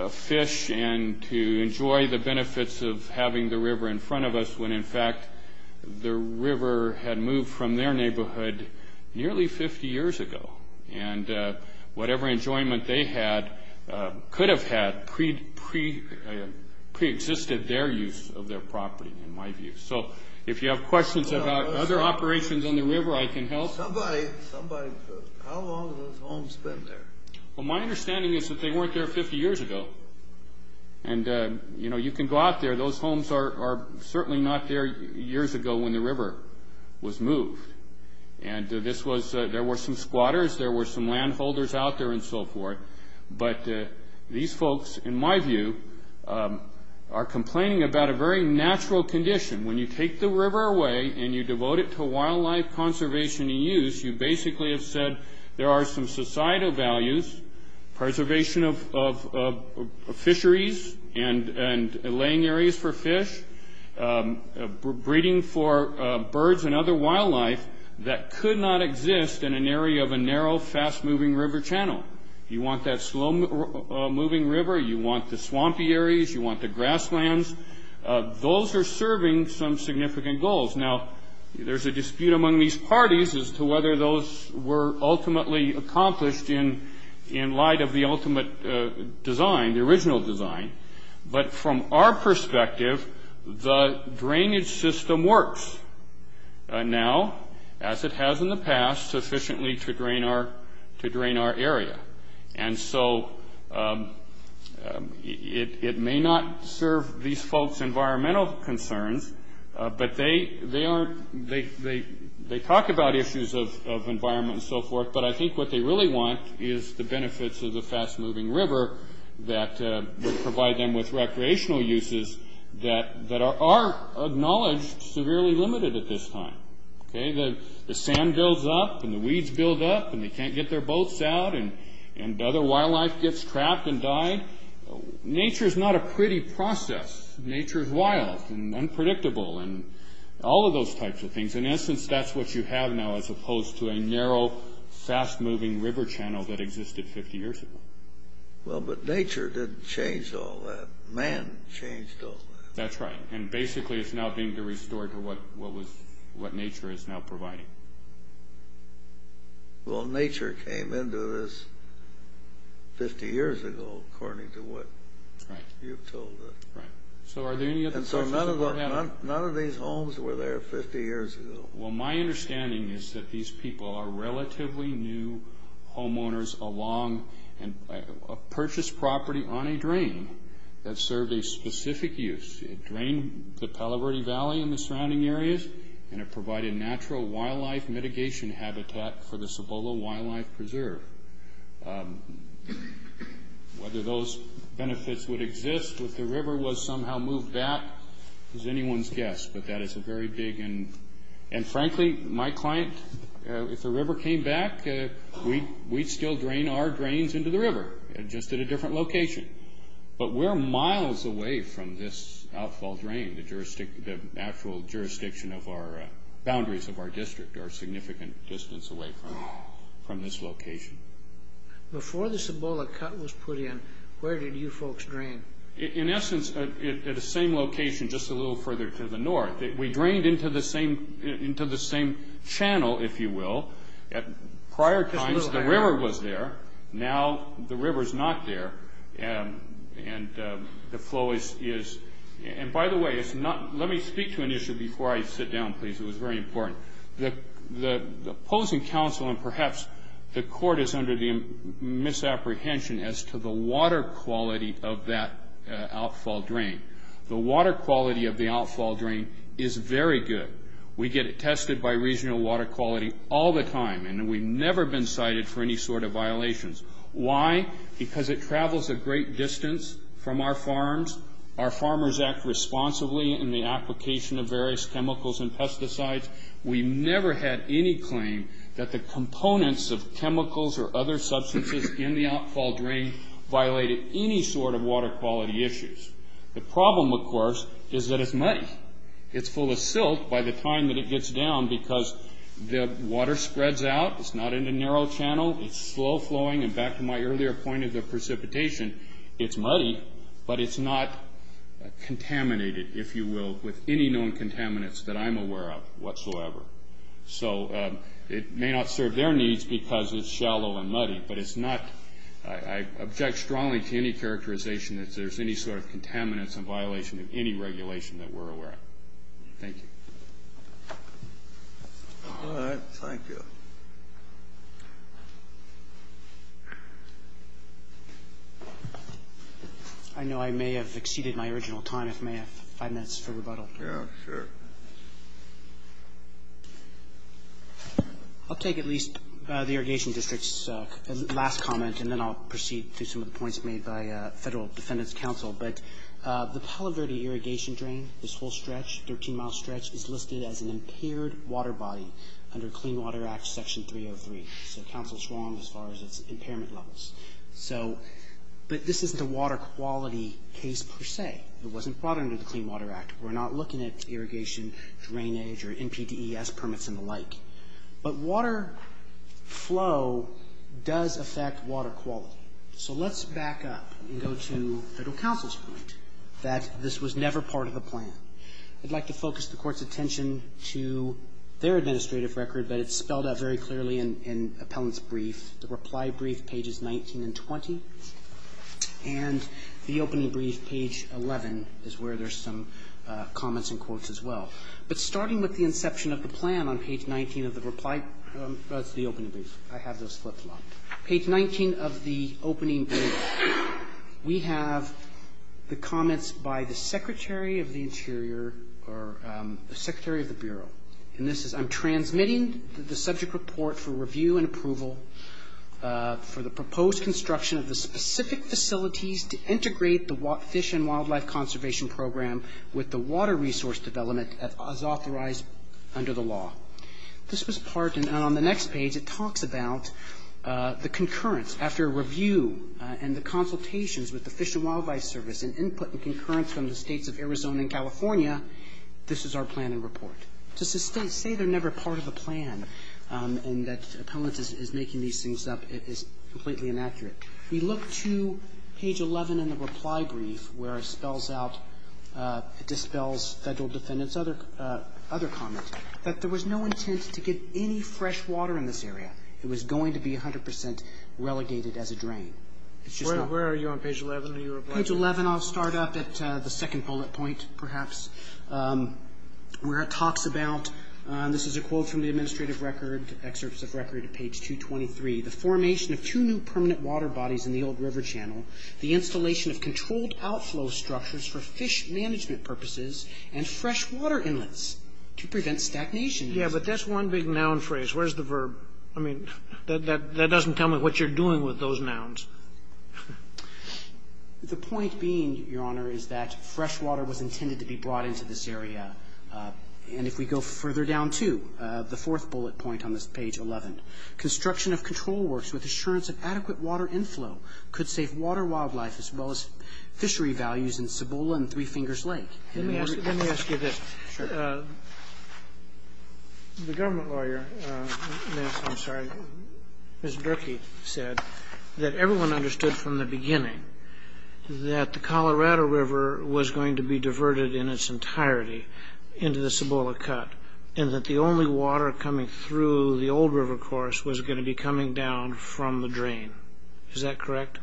fish and to enjoy the benefits of having the river in front of us when, in fact, the river had moved from their neighborhood nearly 50 years ago, and whatever enjoyment they had could have had preexisted their use of their property, in my view. So if you have questions about other operations in the river, I can help. Somebody says, how long have those homes been there? Well, my understanding is that they weren't there 50 years ago, and you can go out there. Those homes are certainly not there years ago when the river was moved, and there were some squatters. There were some landholders out there and so forth, but these folks, in my view, are complaining about a very natural condition. When you take the river away and you devote it to wildlife conservation and use, you basically have said there are some societal values, preservation of fisheries and laying areas for fish, breeding for birds and other wildlife that could not exist in an area of a narrow, fast-moving river channel. You want that slow-moving river. You want the swampy areas. You want the grasslands. Those are serving some significant goals. Now, there's a dispute among these parties as to whether those were ultimately accomplished in light of the ultimate design, the original design, but from our perspective, the drainage system works now, as it has in the past, sufficiently to drain our area, and so it may not serve these folks' environmental concerns, but they talk about issues of environment and so forth, but I think what they really want is the benefits of the fast-moving river that will provide them with recreational uses that are acknowledged severely limited at this time. The sand builds up and the weeds build up and they can't get their boats out and other wildlife gets trapped and died. Nature is not a pretty process. Nature is wild and unpredictable and all of those types of things. In essence, that's what you have now as opposed to a narrow, fast-moving river channel that existed 50 years ago. Well, but nature didn't change all that. Man changed all that. That's right, and basically it's now being restored to what nature is now providing. Well, nature came into this 50 years ago, according to what you've told us. Right. And so none of these homes were there 50 years ago. Well, my understanding is that these people are relatively new homeowners along a purchased property on a drain that served a specific use. It drained the Palo Verde Valley and the surrounding areas and it provided natural wildlife mitigation habitat for the Cibola Wildlife Preserve. Whether those benefits would exist if the river was somehow moved back is anyone's guess, but that is a very big and frankly, my client, if the river came back, we'd still drain our drains into the river, just at a different location. But we're miles away from this outfall drain. The actual jurisdiction of our boundaries of our district are a significant distance away from this location. Before the Cibola Cut was put in, where did you folks drain? In essence, at the same location just a little further to the north. We drained into the same channel, if you will. Prior to this, the river was there. Now, the river is not there. And by the way, let me speak to an issue before I sit down, please. It was very important. The opposing counsel and perhaps the court is under the misapprehension as to the water quality of that outfall drain. The water quality of the outfall drain is very good. We get it tested by regional water quality all the time. And we've never been cited for any sort of violations. Why? Because it travels a great distance from our farms. Our farmers act responsibly in the application of various chemicals and pesticides. We never had any claim that the components of chemicals or other substances in the outfall drain violated any sort of water quality issues. The problem, of course, is that it's muddy. It's full of silt by the time that it gets down because the water spreads out. It's not in a narrow channel. It's slow flowing. And back to my earlier point of the precipitation, it's muddy, but it's not contaminated, if you will, with any known contaminants that I'm aware of whatsoever. So it may not serve their needs because it's shallow and muddy. I object strongly to any characterization that there's any sort of contaminants in violation of any regulation that we're aware of. Thank you. All right. Thank you. I know I may have exceeded my original time. If I may have five minutes for rebuttal. Sure. I'll take at least the irrigation district's last comment, and then I'll proceed to some of the points made by Federal Defendant's Counsel. But the Tullabirdie irrigation drain, this whole stretch, 13-mile stretch, is listed as an impaired water body under Clean Water Act Section 303. So counsel's wrong as far as its impairment levels. But this isn't a water quality case per se. It wasn't brought into the Clean Water Act. We're not looking at irrigation drainage or NPDES permits and the like. But water flow does affect water quality. So let's back up and go to Federal Counsel's point that this was never part of the plan. I'd like to focus the Court's attention to their administrative record, but it's spelled out very clearly in Appellant's Brief. The reply brief, pages 19 and 20, and the opening brief, page 11, is where there's some comments and quotes as well. But starting with the inception of the plan on page 19 of the reply, that's the opening brief. I have this flip-flopped. Page 19 of the opening brief, we have the comments by the Secretary of the Interior or the Secretary of the Bureau. And this is, I'm transmitting the subject report for review and approval for the proposed construction of the specific facilities to integrate the Fish and Wildlife Conservation Program with the water resource development as authorized under the law. This was part, and on the next page, it talks about the concurrence. After a review and the consultations with the Fish and Wildlife Service and input and concurrence from the states of Arizona and California, this is our plan and report. To say they're never part of a plan and that Appellant is making these things up is completely inaccurate. We look to page 11 in the reply brief, where it dispels federal defendants' other comments, that there was no intent to get any fresh water in this area. It was going to be 100% relegated as a drain. Where are you on page 11? Page 11, I'll start up at the second bullet point, perhaps, where it talks about, this is a quote from the administrative record, excerpts of record at page 223, the formation of two new permanent water bodies in the old river channel, the installation of controlled outflow structures for fish management purposes, and fresh water inlets to prevent stagnation. Yeah, but that's one big noun phrase. Where's the verb? That doesn't tell me what you're doing with those nouns. The point being, Your Honor, is that fresh water was intended to be brought into this area. And if we go further down to the fourth bullet point on this page 11, construction of control works with assurance of adequate water inflow could save water wildlife as well as fishery values in Cibola and Three Fingers Lake. Let me ask you this. The government lawyer, I'm sorry, Mr. Drickey, said that everyone understood from the beginning that the Colorado River was going to be diverted in its entirety into the Cibola Cut, and that the only water coming through the old river course was going to be coming down from the drain. Is that correct?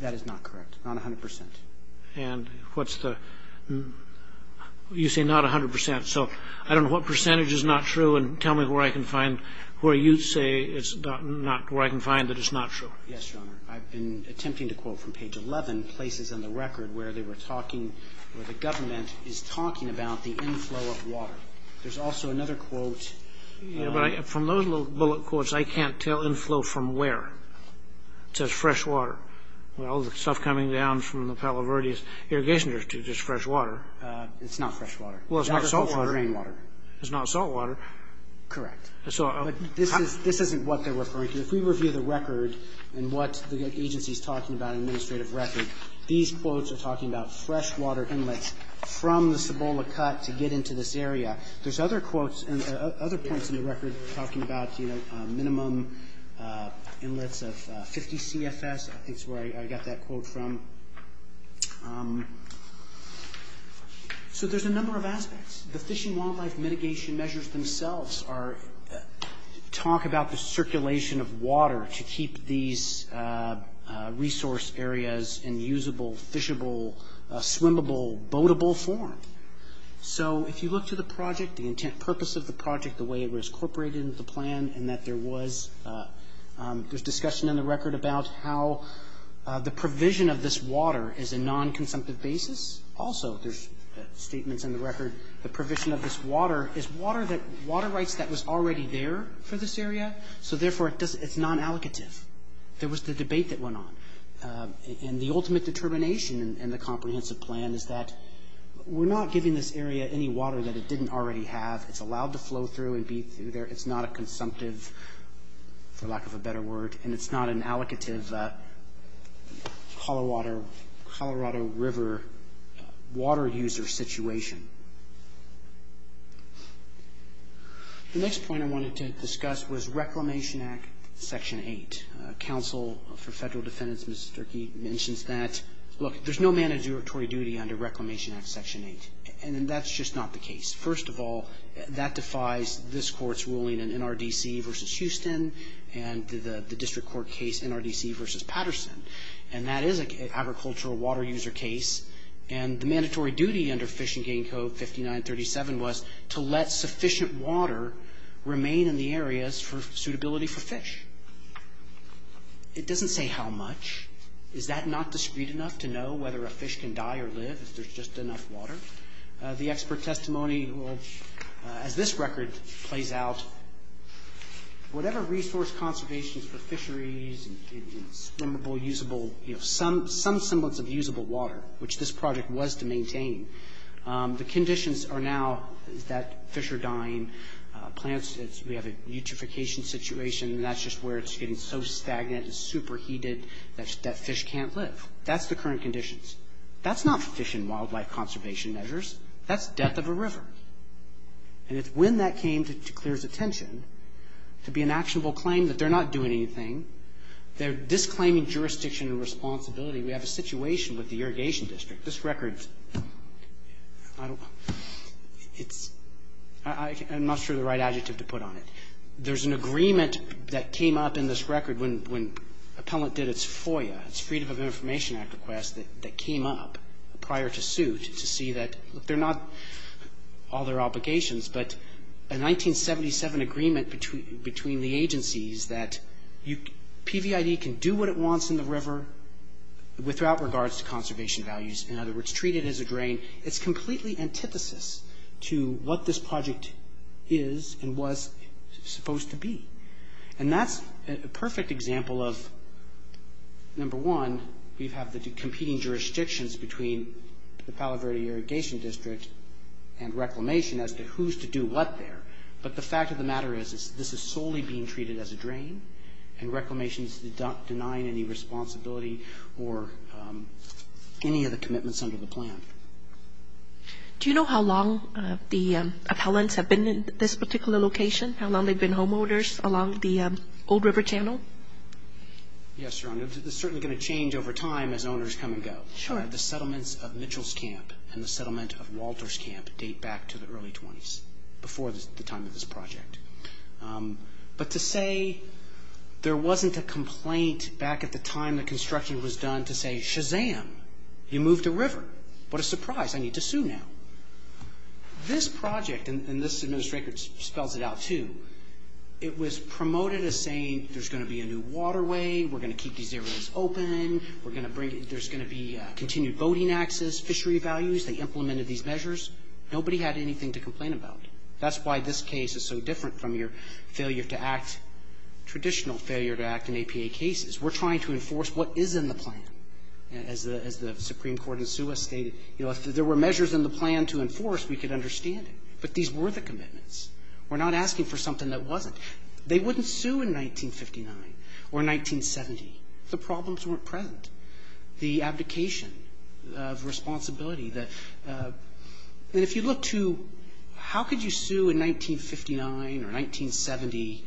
That is not correct, not 100%. And what's the, you say not 100%. So, I don't know what percentage is not true, and tell me where I can find, where you say it's not, where I can find that it's not true. Yes, Your Honor. I've been attempting to quote from page 11 places on the record where they were talking, where the government is talking about the inflow of water. There's also another quote. Yeah, but from those little bullet quotes, I can't tell inflow from where. It says fresh water. Well, the stuff coming down from the Palo Verde's irrigation district is fresh water. It's not fresh water. Well, it's not salt water. It's not salt water. Correct. So, this isn't what they're referring to. If we review the record and what the agency is talking about in the administrative record, these quotes are talking about fresh water inlets from the Cibola Cut to get into this area. There's other quotes and other points in the record that are talking about the minimum inlets of 50 CFS. I think it's where I got that quote from. So, there's a number of aspects. The Fish and Wildlife Mitigation Measures themselves talk about the circulation of water to keep these resource areas in usable, fishable, swimmable, boatable form. So, if you look to the project, the intent and purpose of the project, the way it was incorporated into the plan and that there was discussion in the record about how the provision of this water is a non-consumptive basis. Also, there's statements in the record. The provision of this water is water rights that was already there for this area. So, therefore, it's non-allocative. There was the debate that went on. And the ultimate determination in the comprehensive plan is that we're not giving this area any water that it didn't already have. It's allowed to flow through and be through there. It's not a consumptive, for lack of a better word, and it's not an allocative Colorado River water user situation. The next point I wanted to discuss was Reclamation Act, Section 8. Counsel for Federal Defendants, Mr. Sturkey, mentions that. Look, there's no mandatory duty under Reclamation Act, Section 8. And that's just not the case. First of all, that defies this court's ruling in NRDC v. Houston and the district court case NRDC v. Patterson. And that is an agricultural water user case. And the mandatory duty under Fish and Game Code 5937 was to let sufficient water remain in the areas for suitability for fish. It doesn't say how much. Is that not discreet enough to know whether a fish can die or live if there's just enough water? The expert testimony, as this record plays out, whatever resource conservation for fisheries and some semblance of usable water, which this project was to maintain, the conditions are now that fish are dying, plants, we have a eutrophication situation, and that's just where it's getting so stagnant and superheated that fish can't live. That's the current conditions. That's not fish and wildlife conservation measures. That's death of a river. And it's when that came to clear the tension, to be an actionable claim that they're not doing anything, they're disclaiming jurisdiction and responsibility. We have a situation with the Irrigation District. This record, I'm not sure the right adjective to put on it. There's an agreement that came up in this record when appellate did its FOIA, its Freedom of Information Act request that came up prior to suit to see that they're not all their obligations, but a 1977 agreement between the agencies that PVID can do what it wants in the river without regards to conservation values. In other words, treat it as a grain. It's completely antithesis to what this project is and was supposed to be. And that's a perfect example of, number one, we have the competing jurisdictions between the Palo Verde Irrigation District and Reclamation as to who's to do what there. But the fact of the matter is this is solely being treated as a drain and Reclamation's denying any responsibility or any of the commitments under the plan. Do you know how long the appellants have been in this particular location, how long they've been homeowners along the old river channel? Yes, Your Honor. It's certainly going to change over time as owners come and go. The settlements of Mitchell's Camp and the settlement of Walter's Camp date back to the early 20s, before the time of this project. But to say there wasn't a complaint back at the time the construction was done to say, Shazam, you moved a river. What a surprise. I need to sue now. This project, and this administrator spelled it out too, it was promoted as saying there's going to be a new waterway, we're going to keep these areas open, there's going to be continued boating access, fishery values, they implemented these measures. Nobody had anything to complain about. That's why this case is so different from your failure to act, traditional failure to act in APA cases. We're trying to enforce what is in the plan. As the Supreme Court in Suis stated, if there were measures in the plan to enforce, we could understand it. But these were the commitments. We're not asking for something that wasn't. They wouldn't sue in 1959 or 1970. The problems weren't present. The abdication of responsibility that if you look to how could you sue in 1959 or 1970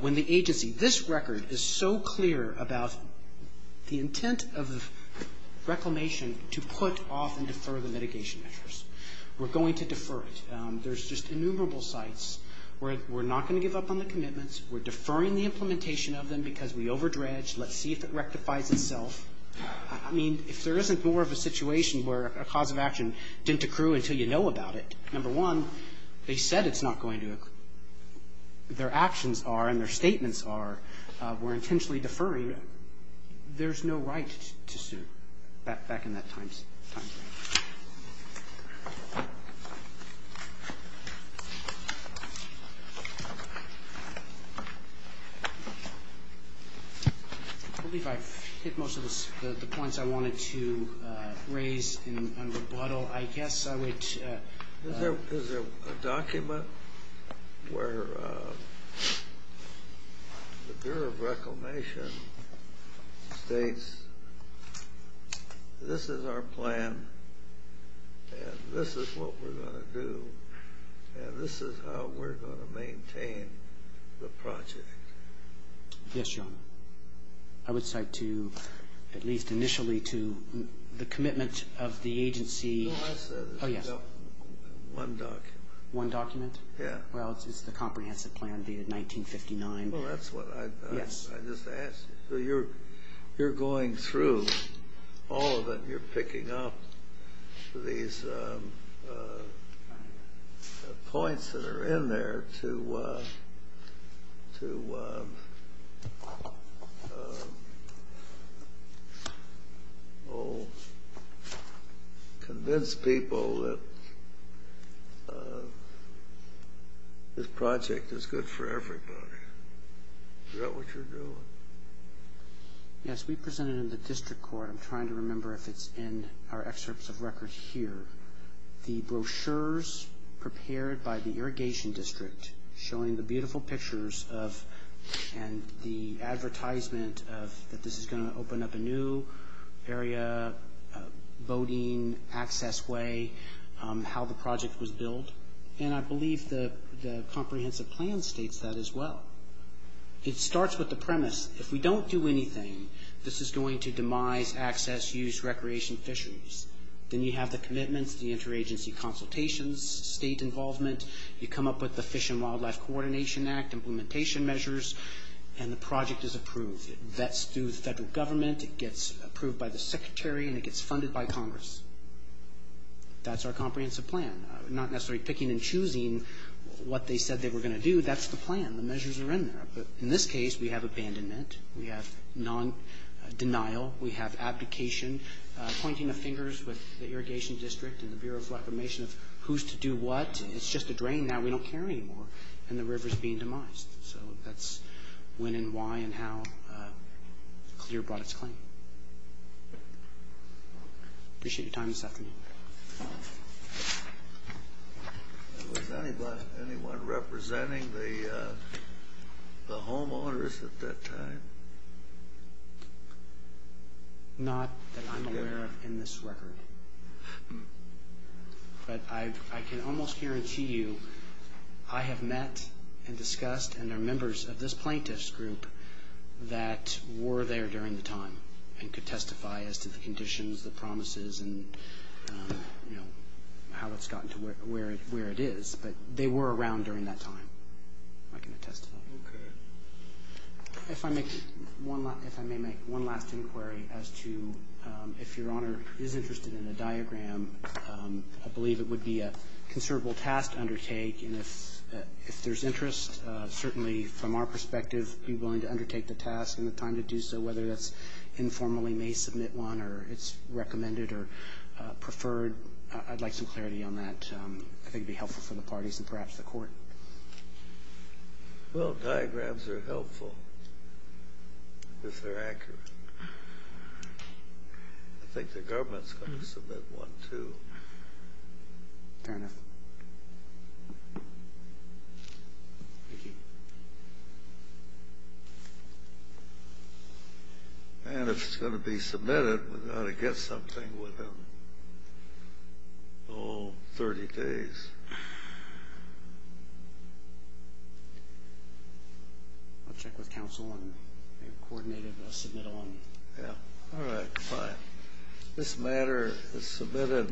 when the agency, this record is so clear about the intent of We're going to defer it. There's just innumerable sites. We're not going to give up on the commitments. We're deferring the implementation of them because we overdredge. Let's see if it rectifies itself. I mean, if there isn't more of a situation where a cause of action didn't accrue until you know about it, number one, they said it's not going to. Their actions are, and their statements are, we're intentionally deferring. There's no right to sue back in that time. I believe I hit most of the points I wanted to raise in rebuttal. Is there a document where the Bureau of Reclamation states, this is our plan and this is what we're going to do, and this is how we're going to maintain the project? Yes, John. I would cite to, at least initially, to the commitment of the agency. Oh, yes. One document. One document? Yes. Well, it's the comprehensive plan dated 1959. Well, that's what I just asked. You're going through all of them. You're picking up these points that are in there to convince people that this project is good for everybody. Is that what you're doing? Yes, we present it in the district court. I'm trying to remember if it's in our excerpts of records here. The brochures prepared by the irrigation district showing the beautiful pictures and the advertisement that this is going to open up a new area, voting, access way, how the project was built, and I believe the comprehensive plan states that as well. It starts with the premise, if we don't do anything, this is going to demise access, use, recreation, fisheries. Then you have the commitment, the interagency consultations, state involvement. You come up with the Fish and Wildlife Coordination Act implementation measures, and the project is approved. That's through the federal government. It gets approved by the secretary, and it gets funded by Congress. That's our comprehensive plan. Not necessarily picking and choosing what they said they were going to do. That's the plan. The measures are in there. In this case, we have abandonment. We have non-denial. We have abdication, pointing the fingers with the irrigation district and the Bureau of Reclamation of who's to do what. It's just a drain now. We don't care anymore, and the river's being demised. So that's when and why and how CLEAR brought its claim. Appreciate your time this afternoon. Was anyone representing the homeowners at that time? Not that I'm aware of in this record. But I can almost guarantee you I have met and discussed and are members of this plaintiff's group that were there during the time and could testify as to the conditions, the promises, and how it's gotten to where it is. But they were around during that time. I can attest to that. If I may make one last inquiry as to if Your Honor is interested in a diagram, I believe it would be a considerable task to undertake. If there's interest, certainly from our perspective, be willing to undertake the task and the time to do so, whether this informally may submit one or it's recommended or preferred, I'd like some clarity on that. I think it would be helpful for the parties and perhaps the court. Well, diagrams are helpful if they're accurate. I think the government's going to submit one too. Fair enough. Thank you. And it's going to be submitted. We're going to get something within 30 days. We'll check with counsel and coordinate it and submit it on. All right. This matter is submitted.